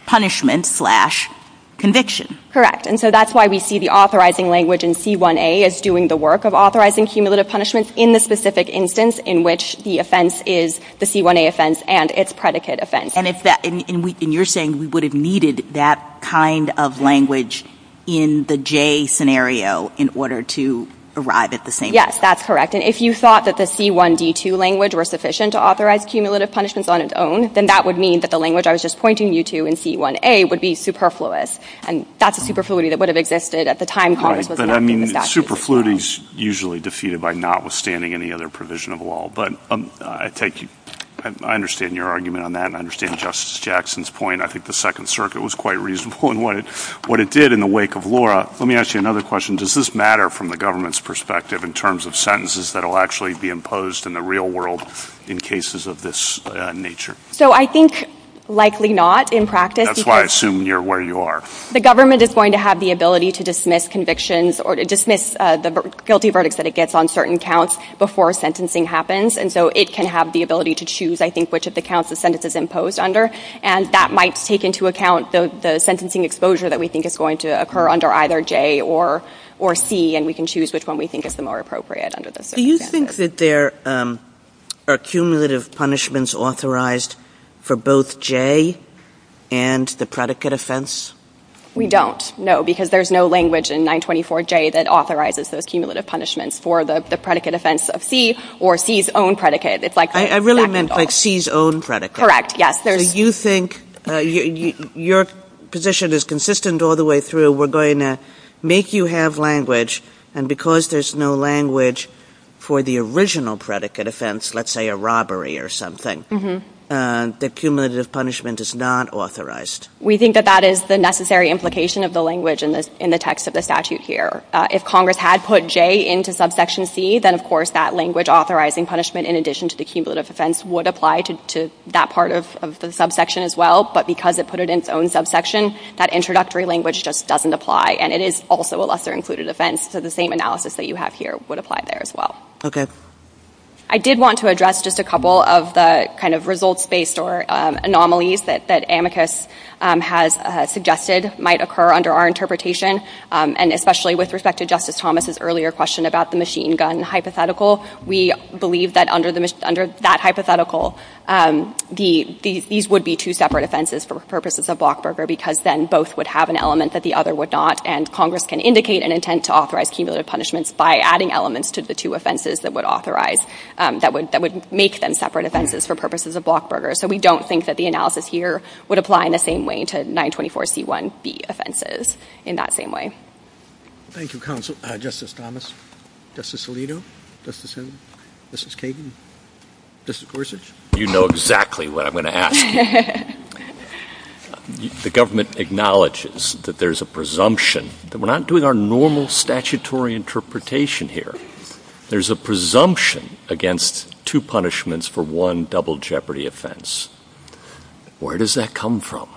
punishment-slash-conviction. Correct. And so that's why we see the authorizing language in C1A as doing the work of authorizing cumulative punishment in the specific instance in which the offense is the C1A offense and its predicate offense. And if that — and you're saying we would have needed that kind of language in the J scenario in order to arrive at the same — Yes, that's correct. And if you thought that the C1D2 language were sufficient to authorize cumulative punishments on its own, then that would mean that the language I was just pointing you to in C1A would be superfluous. And that's a superfluity that would have existed at the time Congress was enacting Right, but I mean superfluity is usually defeated by notwithstanding any other provision of law. But I take — I understand your argument on that and I understand Justice Jackson's point. I think the Second Circuit was quite reasonable in what it did in the wake of Laura. Let me ask you another question. Does this matter from the government's perspective in terms of sentences that will actually be imposed in the real world in cases of this nature? So I think likely not in practice. That's why I assume you're where you are. The government is going to have the ability to dismiss convictions or dismiss the guilty verdicts that it gets on certain counts before sentencing happens. And so it can have the ability to choose, I think, which of the counts the sentence is imposed under. And that might take into account the sentencing exposure that we think is going to occur under either J or C, and we can choose which one we think is the more appropriate under those circumstances. Do you think that there are cumulative punishments authorized for both J and the predicate offense? We don't, no, because there's no language in 924J that authorizes those cumulative punishments for the predicate offense of C or C's own predicate. It's like — I really meant like C's own predicate. Correct, yes. So you think your position is consistent all the way through. We're going to make you have language, and because there's no language for the original predicate offense, let's say a robbery or something, the cumulative punishment is not authorized. We think that that is the necessary implication of the language in the text of the statute here. If Congress had put J into subsection C, then, of course, that language authorizing punishment in addition to the cumulative offense would apply to that part of the subsection as well, but because it put it in its own subsection, that introductory language just doesn't apply, and it is also a lesser-included offense, so the same analysis that you have here would apply there as well. Okay. I did want to address just a couple of the kind of results-based or anomalies that Amicus has suggested might occur under our interpretation, and especially with respect to Justice Thomas's earlier question about the machine gun hypothetical. We believe that under that hypothetical, these would be two separate offenses for purposes of Blockberger because then both would have an element that the other would not, and Congress can indicate an intent to authorize cumulative punishments by adding elements to the two offenses that would make them separate offenses for purposes of Blockberger, so we don't think that the analysis here would apply in the same way to 924C1B offenses in that same way. Thank you, Counsel. Justice Thomas? Justice Alito? Justice Hill? Justice Kagan? Justice Gorsuch? You know exactly what I'm going to ask. The government acknowledges that there's a presumption that we're not doing our normal statutory interpretation here. There's a presumption against two punishments for one double jeopardy offense. Where does that come from?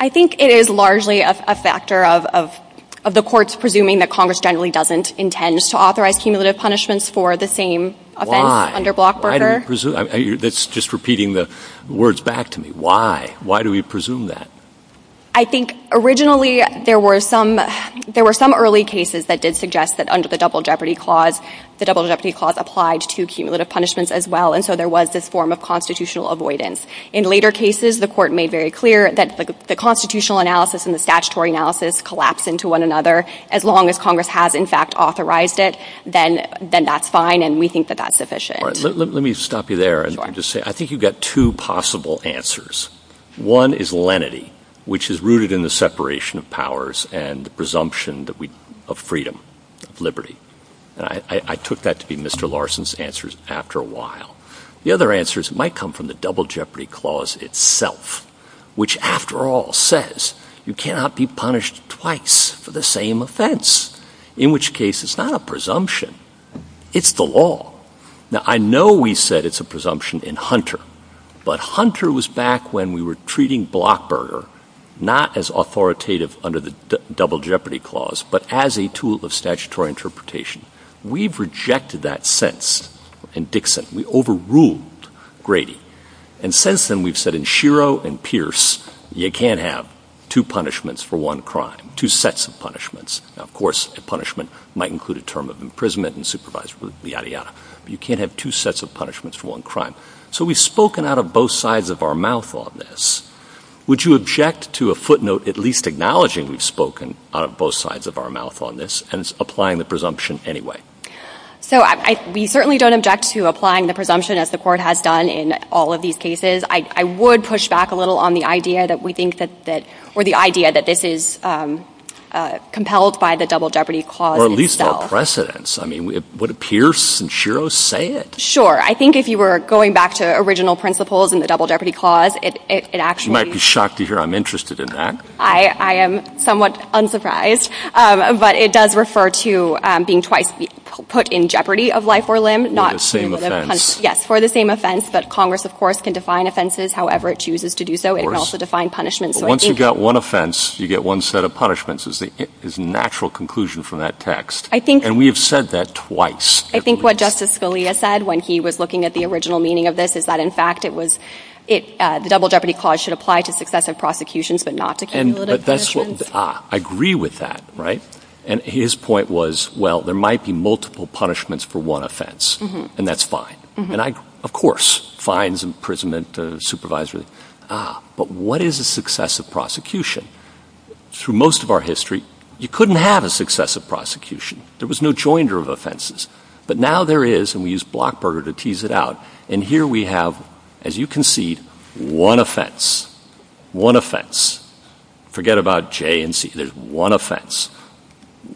I think it is largely a factor of the courts presuming that Congress generally doesn't intend to authorize cumulative punishments for the same offense under Blockberger. That's just repeating the words back to me. Why? Why do we presume that? I think originally there were some early cases that did suggest that under the double jeopardy clause, the double jeopardy clause applied to cumulative punishments as well, and so there was this form of constitutional avoidance. In later cases, the court made very clear that the constitutional analysis and the statutory analysis collapse into one another. As long as Congress has, in fact, authorized it, then that's fine and we think that that's sufficient. Let me stop you there and just say, I think you've got two possible answers. One is lenity, which is rooted in the separation of powers and the presumption of freedom, And I took that to be Mr. Larson's answers after a while. The other answer might come from the double jeopardy clause itself, which after all says you cannot be punished twice for the same offense, in which case it's not a presumption, it's the law. Now, I know we said it's a presumption in Hunter, but Hunter was back when we were treating Blockberger not as authoritative under the double jeopardy clause, but as a tool of statutory interpretation. We've rejected that since in Dixon. We overruled Grady. And since then, we've said in Shiro and Pierce, you can't have two punishments for one crime, two sets of punishments. Now, of course, a punishment might include a term of imprisonment and supervisory liability, but you can't have two sets of punishments for one crime. So we've spoken out of both sides of our mouth on this. Would you object to a footnote at least acknowledging we've spoken out of both sides of our mouth on this and applying the presumption anyway? So we certainly don't object to applying the presumption as the Court has done in all of these cases. I would push back a little on the idea that we think that that – or the idea that this is compelled by the double jeopardy clause itself. Or at least our precedents. I mean, would Pierce and Shiro say it? Sure. I think if you were going back to original principles in the double jeopardy clause, it actually – You might be shocked to hear I'm interested in that. I am somewhat unsurprised. But it does refer to being twice put in jeopardy of life or limb, not to the punishment. Yes. For the same offense. But Congress, of course, can define offenses however it chooses to do so. It can also define punishments. But once you've got one offense, you get one set of punishments is the natural conclusion from that text. I think – And we have said that twice. I think what Justice Scalia said when he was looking at the original meaning of this is that, in fact, it was – the double jeopardy clause should apply to successive prosecutions but not to cumulative punishments. But that's what – I agree with that, right? And his point was, well, there might be multiple punishments for one offense. And that's fine. And I – of course, fines, imprisonment, supervisory – but what is a successive prosecution? Through most of our history, you couldn't have a successive prosecution. There was no joinder of offenses. But now there is, and we use Blockburger to tease it out, and here we have, as you concede, one offense. One offense. Forget about J and C. There's one offense.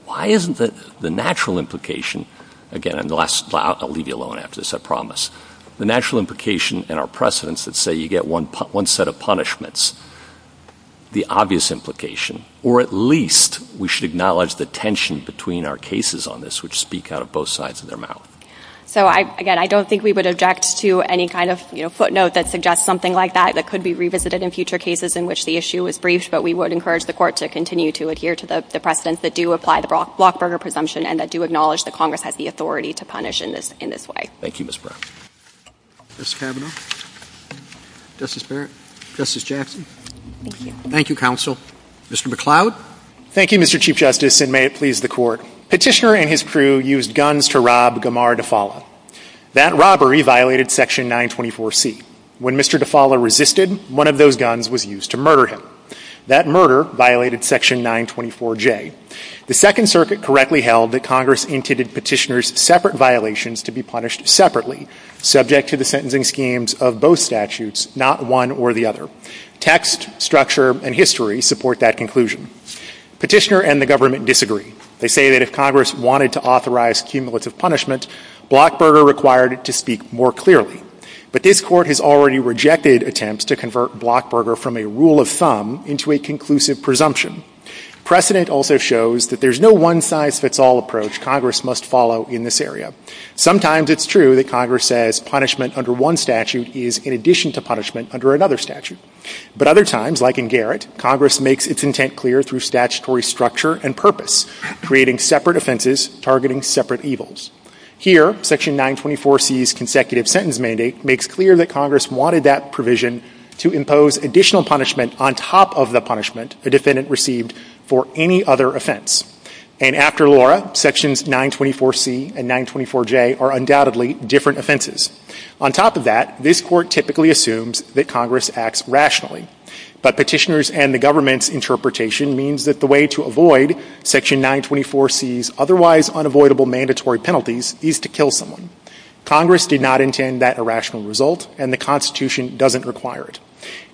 Why isn't the natural implication – again, I'll leave you alone after this, I promise. The natural implication in our precedents that say you get one set of punishments, the obvious implication, or at least we should acknowledge the tension between our cases on this, which speak out of both sides of their mouth. So I – again, I don't think we would object to any kind of, you know, footnote that suggests something like that that could be revisited in future cases in which the issue is briefed, but we would encourage the Court to continue to adhere to the precedents that do apply the Blockburger presumption and that do acknowledge that Congress has the authority to punish in this way. Thank you, Ms. Brown. Mr. Kavanaugh? Justice Barrett? Justice Jackson? Thank you. Thank you, counsel. Mr. McCloud? Thank you, Mr. Chief Justice, and may it please the Court. Petitioner and his crew used guns to rob Gamar DeFala. That robbery violated Section 924C. When Mr. DeFala resisted, one of those guns was used to murder him. That murder violated Section 924J. The Second Circuit correctly held that Congress intended Petitioner's separate violations to be punished separately, subject to the sentencing schemes of both statutes, not one or the other. Text, structure, and history support that conclusion. Petitioner and the government disagree. They say that if Congress wanted to authorize cumulative punishment, Blockburger required it to speak more clearly. But this Court has already rejected attempts to convert Blockburger from a rule of thumb into a conclusive presumption. Precedent also shows that there's no one-size-fits-all approach Congress must follow in this area. Sometimes it's true that Congress says punishment under one statute is in addition to punishment under another statute. But other times, like in Garrett, Congress makes its intent clear through statutory structure and purpose, creating separate offenses targeting separate evils. Here, Section 924C's consecutive sentence mandate makes clear that Congress wanted that provision to impose additional punishment on top of the punishment a defendant received for any other offense. And after Laura, Sections 924C and 924J are undoubtedly different offenses. On top of that, this Court typically assumes that Congress acts rationally. But Petitioner's and the government's interpretation means that the way to avoid Section 924C's otherwise unavoidable mandatory penalties is to kill someone. Congress did not intend that irrational result, and the Constitution doesn't require it.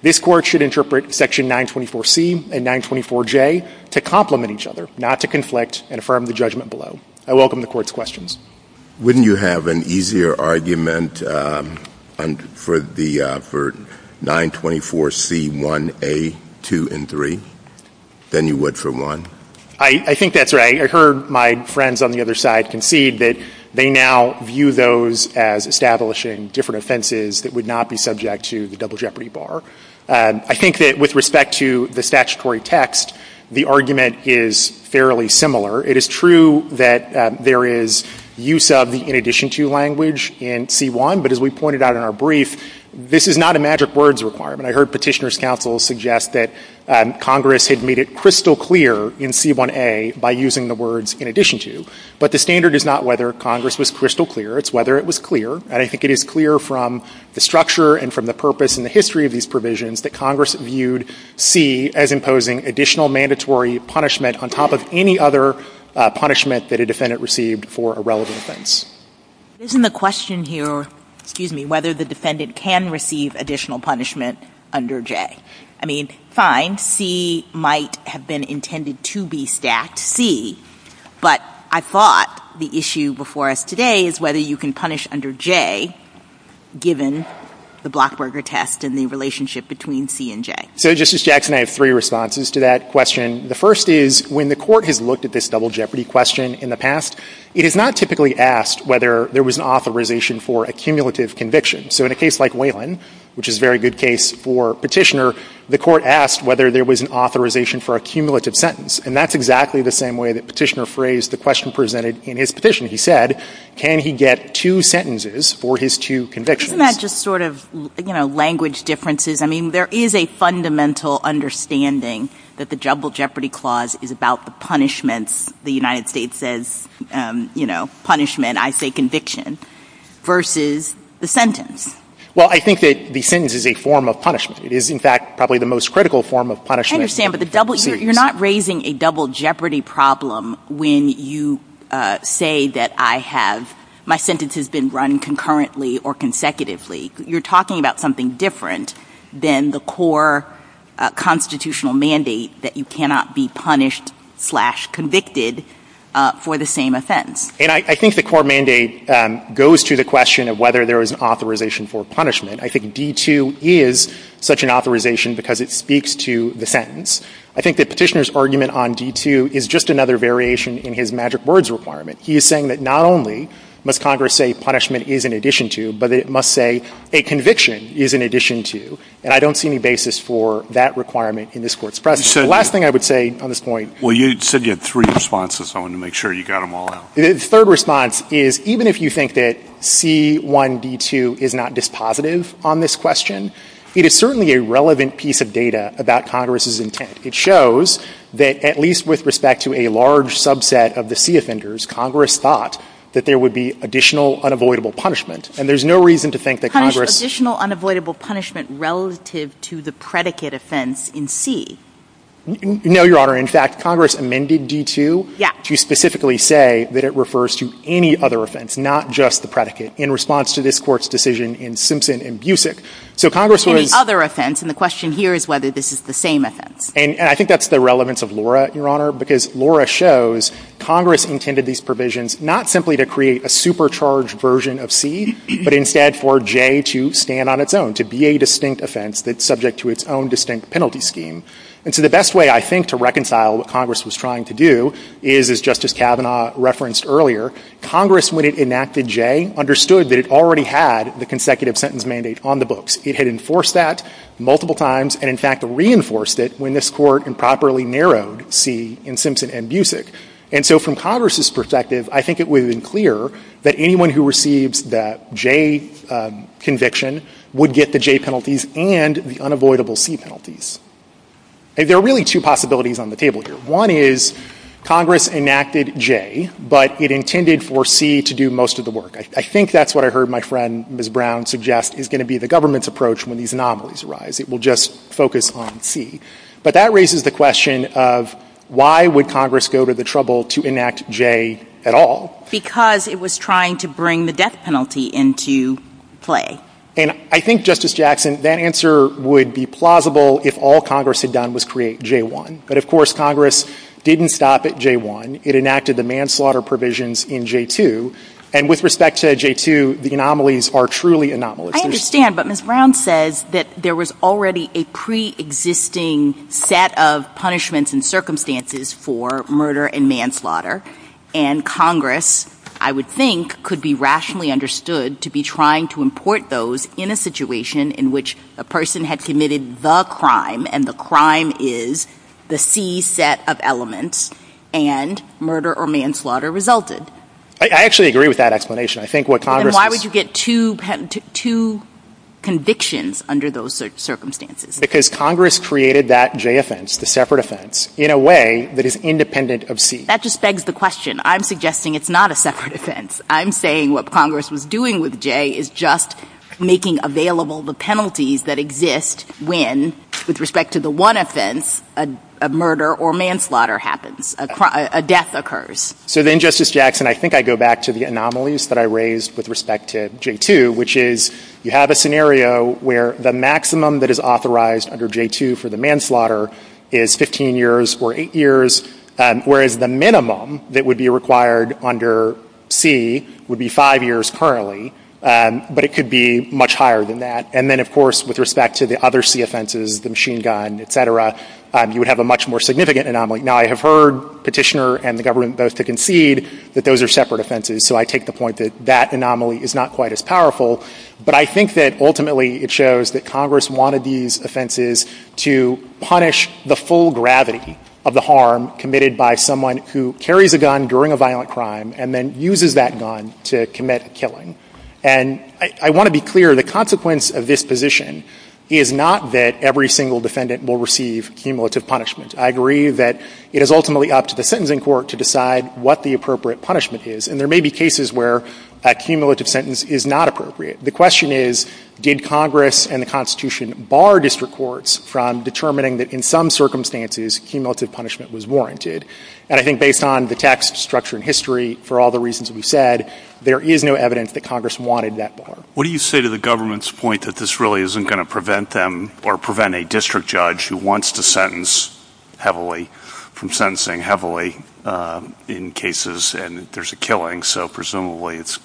This Court should interpret Section 924C and 924J to complement each other, not to conflict and affirm the judgment below. I welcome the Court's questions. Wouldn't you have an easier argument for the — for 924C1A2 and 3 than you would for 1? I think that's right. I heard my friends on the other side concede that they now view those as establishing different offenses that would not be subject to the double jeopardy bar. I think that with respect to the statutory text, the argument is fairly similar. It is true that there is use of the in addition to language in C1, but as we pointed out in our brief, this is not a magic words requirement. I heard Petitioner's counsel suggest that Congress had made it crystal clear in C1A by using the words in addition to. But the standard is not whether Congress was crystal clear. It's whether it was clear. And I think it is clear from the structure and from the purpose and the history of these provisions that Congress viewed C as imposing additional mandatory punishment on top of any other punishment that a defendant received for a relevant offense. Isn't the question here, excuse me, whether the defendant can receive additional punishment under J? I mean, fine, C might have been intended to be stacked, C, but I thought the issue before us today is whether you can punish under J given the Blockberger test and the relationship between C and J. So, Justice Jackson, I have three responses to that question. The first is, when the Court has looked at this double jeopardy question in the past, it has not typically asked whether there was an authorization for a cumulative conviction. So in a case like Whalen, which is a very good case for Petitioner, the Court asked whether there was an authorization for a cumulative sentence. And that's exactly the same way that Petitioner phrased the question presented in his petition. He said, can he get two sentences for his two convictions? Isn't that just sort of, you know, language differences? I mean, there is a fundamental understanding that the double jeopardy clause is about the punishments, the United States says, you know, punishment, I say conviction, versus the sentence. Well, I think that the sentence is a form of punishment. It is, in fact, probably the most critical form of punishment in the court series. I understand, but the double — you're not raising a double jeopardy problem when you say that I have — my sentence has been run concurrently or consecutively. You're talking about something different than the core constitutional mandate that you cannot be punished-slash-convicted for the same offense. And I think the core mandate goes to the question of whether there was an authorization for punishment. I think D-2 is such an authorization because it speaks to the sentence. I think that Petitioner's argument on D-2 is just another variation in his magic words requirement. He is saying that not only must Congress say punishment is in addition to, but it must say a conviction is in addition to. And I don't see any basis for that requirement in this Court's precedent. The last thing I would say on this point — Well, you said you had three responses, so I want to make sure you got them all out. The third response is even if you think that C-1D-2 is not dispositive on this question, it is certainly a relevant piece of data about Congress's intent. It shows that at least with respect to a large subset of the C offenders, Congress thought that there would be additional unavoidable punishment. And there's no reason to think that Congress — Additional unavoidable punishment relative to the predicate offense in C. No, Your Honor. In fact, Congress amended D-2 — Yeah. — to specifically say that it refers to any other offense, not just the predicate, in response to this Court's decision in Simpson and Busick. So Congress was — Any other offense, and the question here is whether this is the same offense. And I think that's the relevance of Laura, Your Honor, because Laura shows Congress intended these provisions not simply to create a supercharged version of C, but instead for J to stand on its own, to be a distinct offense that's subject to its own distinct penalty scheme. And so the best way, I think, to reconcile what Congress was trying to do is, as Justice Kavanaugh referenced earlier, Congress, when it enacted J, understood that it already had the consecutive sentence mandate on the books. It had enforced that multiple times and, in fact, reinforced it when this Court improperly narrowed C in Simpson and Busick. And so from Congress's perspective, I think it would have been clear that anyone who receives the J conviction would get the J penalties and the unavoidable C penalties. There are really two possibilities on the table here. One is Congress enacted J, but it intended for C to do most of the work. I think that's what I heard my friend, Ms. Brown, suggest is going to be the government's approach when these anomalies arise. It will just focus on C. But that raises the question of why would Congress go to the trouble to enact J at all? Because it was trying to bring the death penalty into play. And I think, Justice Jackson, that answer would be plausible if all Congress had done was create J-1. But, of course, Congress didn't stop at J-1. It enacted the manslaughter provisions in J-2. And with respect to J-2, the anomalies are truly anomalous. I understand, but Ms. Brown says that there was already a pre-existing set of punishments and circumstances for murder and manslaughter. And Congress, I would think, could be rationally understood to be trying to import those in a situation in which a person had committed the crime, and the crime is the C set of elements, and murder or manslaughter resulted. I actually agree with that explanation. I think what Congress is — But then why would you get two convictions under those circumstances? Because Congress created that J offense, the separate offense, in a way that is independent of C. That just begs the question. I'm suggesting it's not a separate offense. I'm saying what Congress was doing with J is just making available the penalties that exist when, with respect to the one offense, a murder or manslaughter happens, a death occurs. So then, Justice Jackson, I think I go back to the anomalies that I raised with respect to J-2, which is you have a scenario where the maximum that is authorized under J-2 for the manslaughter is 15 years or 8 years, whereas the minimum that would be required under C would be 5 years currently. But it could be much higher than that. And then, of course, with respect to the other C offenses, the machine gun, et cetera, you would have a much more significant anomaly. Now, I have heard Petitioner and the government both to concede that those are separate offenses. So I take the point that that anomaly is not quite as powerful. But I think that, ultimately, it shows that Congress wanted these offenses to punish the full gravity of the harm committed by someone who carries a gun during a violent crime and then uses that gun to commit a killing. And I want to be clear, the consequence of this position is not that every single defendant will receive cumulative punishment. I agree that it is ultimately up to the sentencing court to decide what the appropriate punishment is. And there may be cases where a cumulative sentence is not appropriate. The question is, did Congress and the Constitution bar district courts from determining that in some circumstances, cumulative punishment was warranted? And I think based on the text, structure, and history, for all the reasons we've said, there is no evidence that Congress wanted that bar. What do you say to the government's point that this really isn't going to prevent them or prevent a district judge who wants to sentence heavily from sentencing heavily in cases and there's a killing. So presumably, it's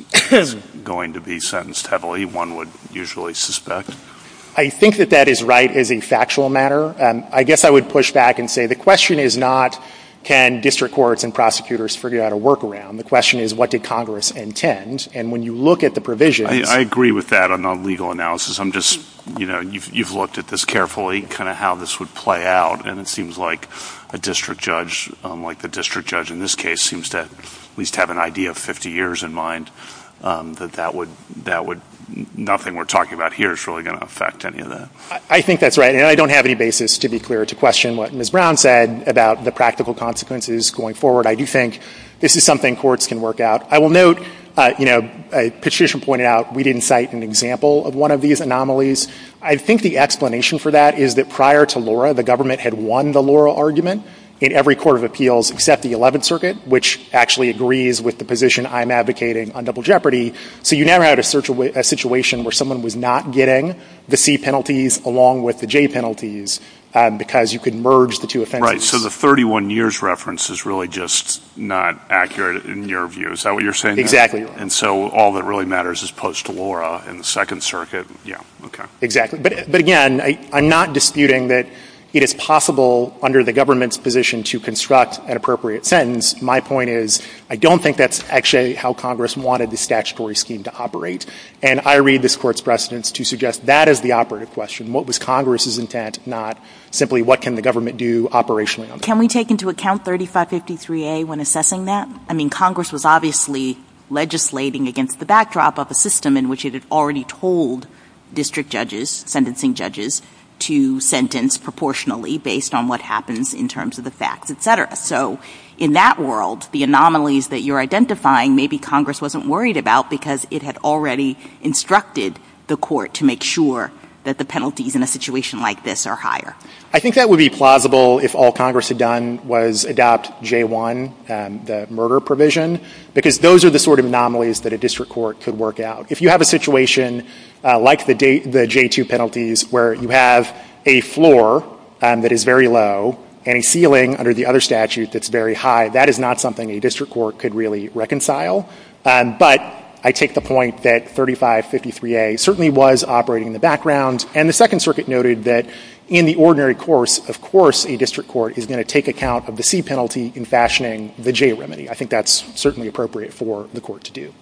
going to be sentenced heavily, one would usually suspect. I think that that is right as a factual matter. I guess I would push back and say, the question is not, can district courts and prosecutors figure out a workaround? The question is, what did Congress intend? And when you look at the provisions— I agree with that on the legal analysis. You've looked at this carefully, kind of how this would play out, and it seems like a district judge, like the district judge in this case, seems to at least have an idea of 50 years in mind that nothing we're talking about here is really going to affect any of that. I think that's right. And I don't have any basis, to be clear, to question what Ms. Brown said about the practical consequences going forward. I do think this is something courts can work out. I will note, you know, Petitioner pointed out we didn't cite an example of one of these anomalies. I think the explanation for that is that prior to Laura, the government had won the Laura argument in every court of appeals except the Eleventh Circuit, which actually agrees with the position I'm advocating on double jeopardy. So you never had a situation where someone was not getting the C penalties along with the J penalties because you could merge the two offenses. Right. So the 31 years reference is really just not accurate in your view. Is that what you're saying? Exactly. And so all that really matters is post-Laura in the Second Circuit. Yeah. Okay. Exactly. But again, I'm not disputing that it is possible under the government's position to construct an appropriate sentence. My point is I don't think that's actually how Congress wanted the statutory scheme to operate. And I read this Court's precedents to suggest that is the operative question. What was Congress's intent, not simply what can the government do operationally on this? Can we take into account 3553A when assessing that? I mean, Congress was obviously legislating against the backdrop of a system in which it had already told district judges, sentencing judges, to sentence proportionally based on what happens in terms of the facts, et cetera. So in that world, the anomalies that you're identifying maybe Congress wasn't worried about because it had already instructed the Court to make sure that the penalties in a situation like this are higher. I think that would be plausible if all Congress had done was adopt J-1, the murder provision, because those are the sort of anomalies that a district court could work out. If you have a situation like the J-2 penalties where you have a floor that is very low and a ceiling under the other statute that's very high, that is not something a district court could really reconcile. But I take the point that 3553A certainly was operating in the background. And the Second Circuit noted that in the ordinary course, of course, a district court is going to take account of the C penalty in fashioning the J remedy. I think that's certainly appropriate for the Court to do.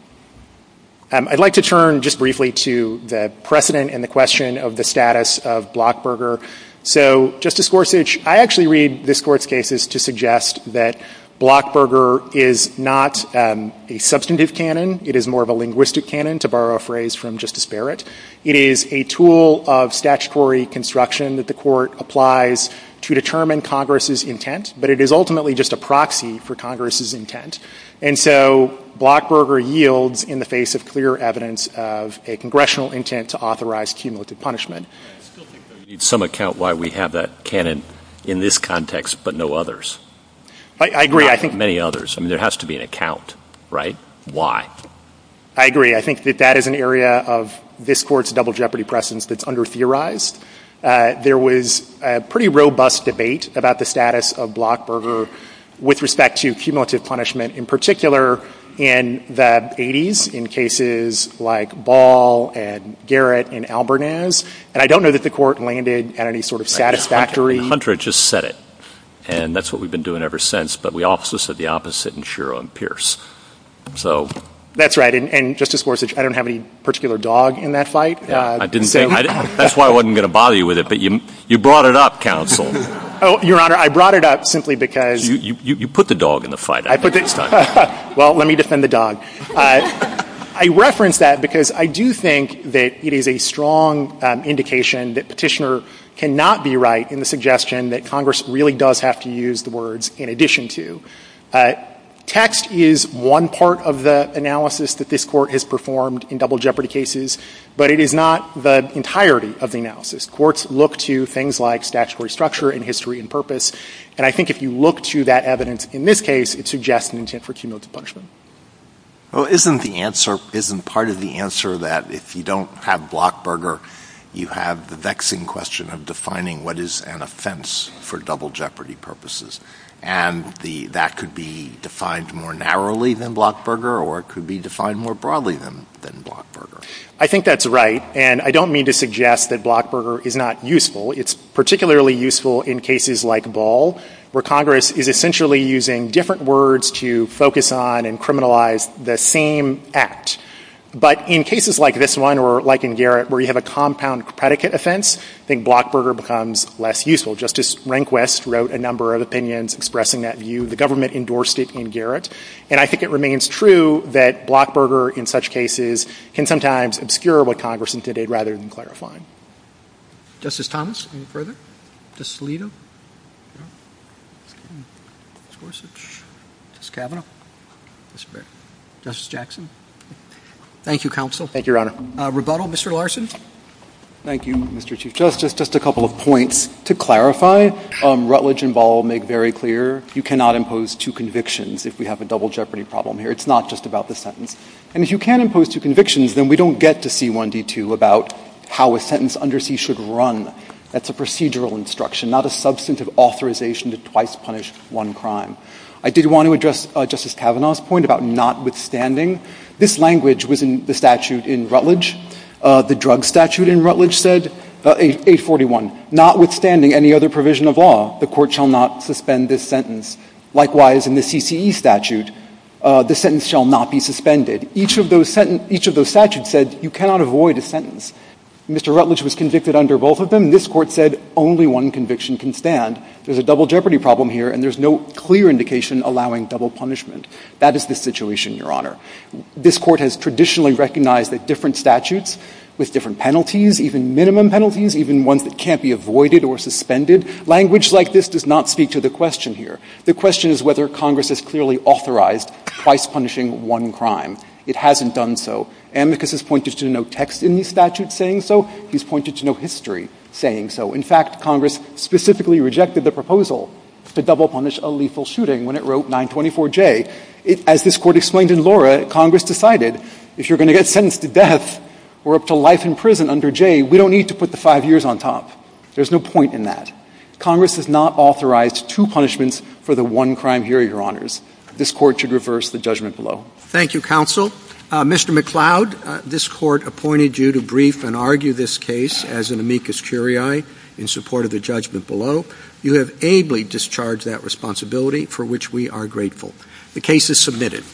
I'd like to turn just briefly to the precedent and the question of the status of Blockburger. So Justice Gorsuch, I actually read this Court's cases to suggest that Blockburger is not a substantive canon. It is more of a linguistic canon, to borrow a phrase from Justice Barrett. It is a tool of statutory construction that the Court applies to determine Congress's intent, but it is ultimately just a proxy for Congress's intent. And so Blockburger yields in the face of clear evidence of a congressional intent to authorize cumulative punishment. I still think that we need some account why we have that canon in this context, but no others. I agree. I think many others. I mean, there has to be an account, right? Why? I agree. I think that that is an area of this Court's double jeopardy precedence that's under-theorized. There was a pretty robust debate about the status of Blockburger with respect to cumulative punishment, in particular in the 80s, in cases like Ball and Garrett and Albernaz. And I don't know that the Court landed at any sort of satisfactory – And Hunter just said it. And that's what we've been doing ever since. But we also said the opposite in Shiro and Pierce. So – I don't have any particular dog in that fight. I didn't think – that's why I wasn't going to bother you with it, but you brought it up, counsel. Oh, Your Honor, I brought it up simply because – You put the dog in the fight, I think, this time. Well, let me defend the dog. I reference that because I do think that it is a strong indication that Petitioner cannot be right in the suggestion that Congress really does have to use the words, in addition to. Text is one part of the analysis that this Court has performed in double jeopardy cases, but it is not the entirety of the analysis. Courts look to things like statutory structure and history and purpose. And I think if you look to that evidence in this case, it suggests an intent for cumulative punishment. Well, isn't the answer – isn't part of the answer that if you don't have Blockburger, you have the vexing question of defining what is an offense for double jeopardy purposes? And that could be defined more narrowly than Blockburger, or it could be defined more broadly than Blockburger. I think that's right, and I don't mean to suggest that Blockburger is not useful. It's particularly useful in cases like Ball, where Congress is essentially using different words to focus on and criminalize the same act. But in cases like this one, or like in Garrett, where you have a compound predicate offense, I think Blockburger becomes less useful. Justice Rehnquist wrote a number of opinions expressing that view. The government endorsed it in Garrett. And I think it remains true that Blockburger, in such cases, can sometimes obscure what Congress intended rather than clarify. Justice Thomas, any further? Justice Alito? Justice Gorsuch? Justice Kavanaugh? Mr. Baird? Justice Jackson? Thank you, Counsel. Thank you, Your Honor. Rebuttal? Mr. Larson? Thank you, Mr. Chief Justice. Just a couple of points to clarify. Rutledge and Ball make very clear you cannot impose two convictions if we have a double jeopardy problem here. It's not just about the sentence. And if you can impose two convictions, then we don't get to C1D2 about how a sentence under C should run. That's a procedural instruction, not a substantive authorization to twice punish one crime. I did want to address Justice Kavanaugh's point about notwithstanding. This language was in the statute in Rutledge. The drug statute in Rutledge said, 841, notwithstanding any other provision of law, the Court shall not suspend this sentence. Likewise, in the CCE statute, the sentence shall not be suspended. Each of those statutes said you cannot avoid a sentence. Mr. Rutledge was convicted under both of them. This Court said only one conviction can stand. There's a double jeopardy problem here, and there's no clear indication allowing double punishment. That is the situation, Your Honor. This Court has traditionally recognized that different statutes with different penalties, even minimum penalties, even ones that can't be avoided or suspended, language like this does not speak to the question here. The question is whether Congress has clearly authorized twice punishing one crime. It hasn't done so. Amicus has pointed to no text in the statute saying so. He's pointed to no history saying so. In fact, Congress specifically rejected the proposal to double punish a lethal shooting when it wrote 924J. As this Court explained in Laura, Congress decided if you're going to get sentenced to death or up to life in prison under J, we don't need to put the five years on top. There's no point in that. Congress has not authorized two punishments for the one crime here, Your Honors. This Court should reverse the judgment below. Thank you, Counsel. Mr. McCloud, this Court appointed you to brief and argue this case as an amicus curiae in support of the judgment below. You have ably discharged that responsibility for which we are grateful. The case is submitted.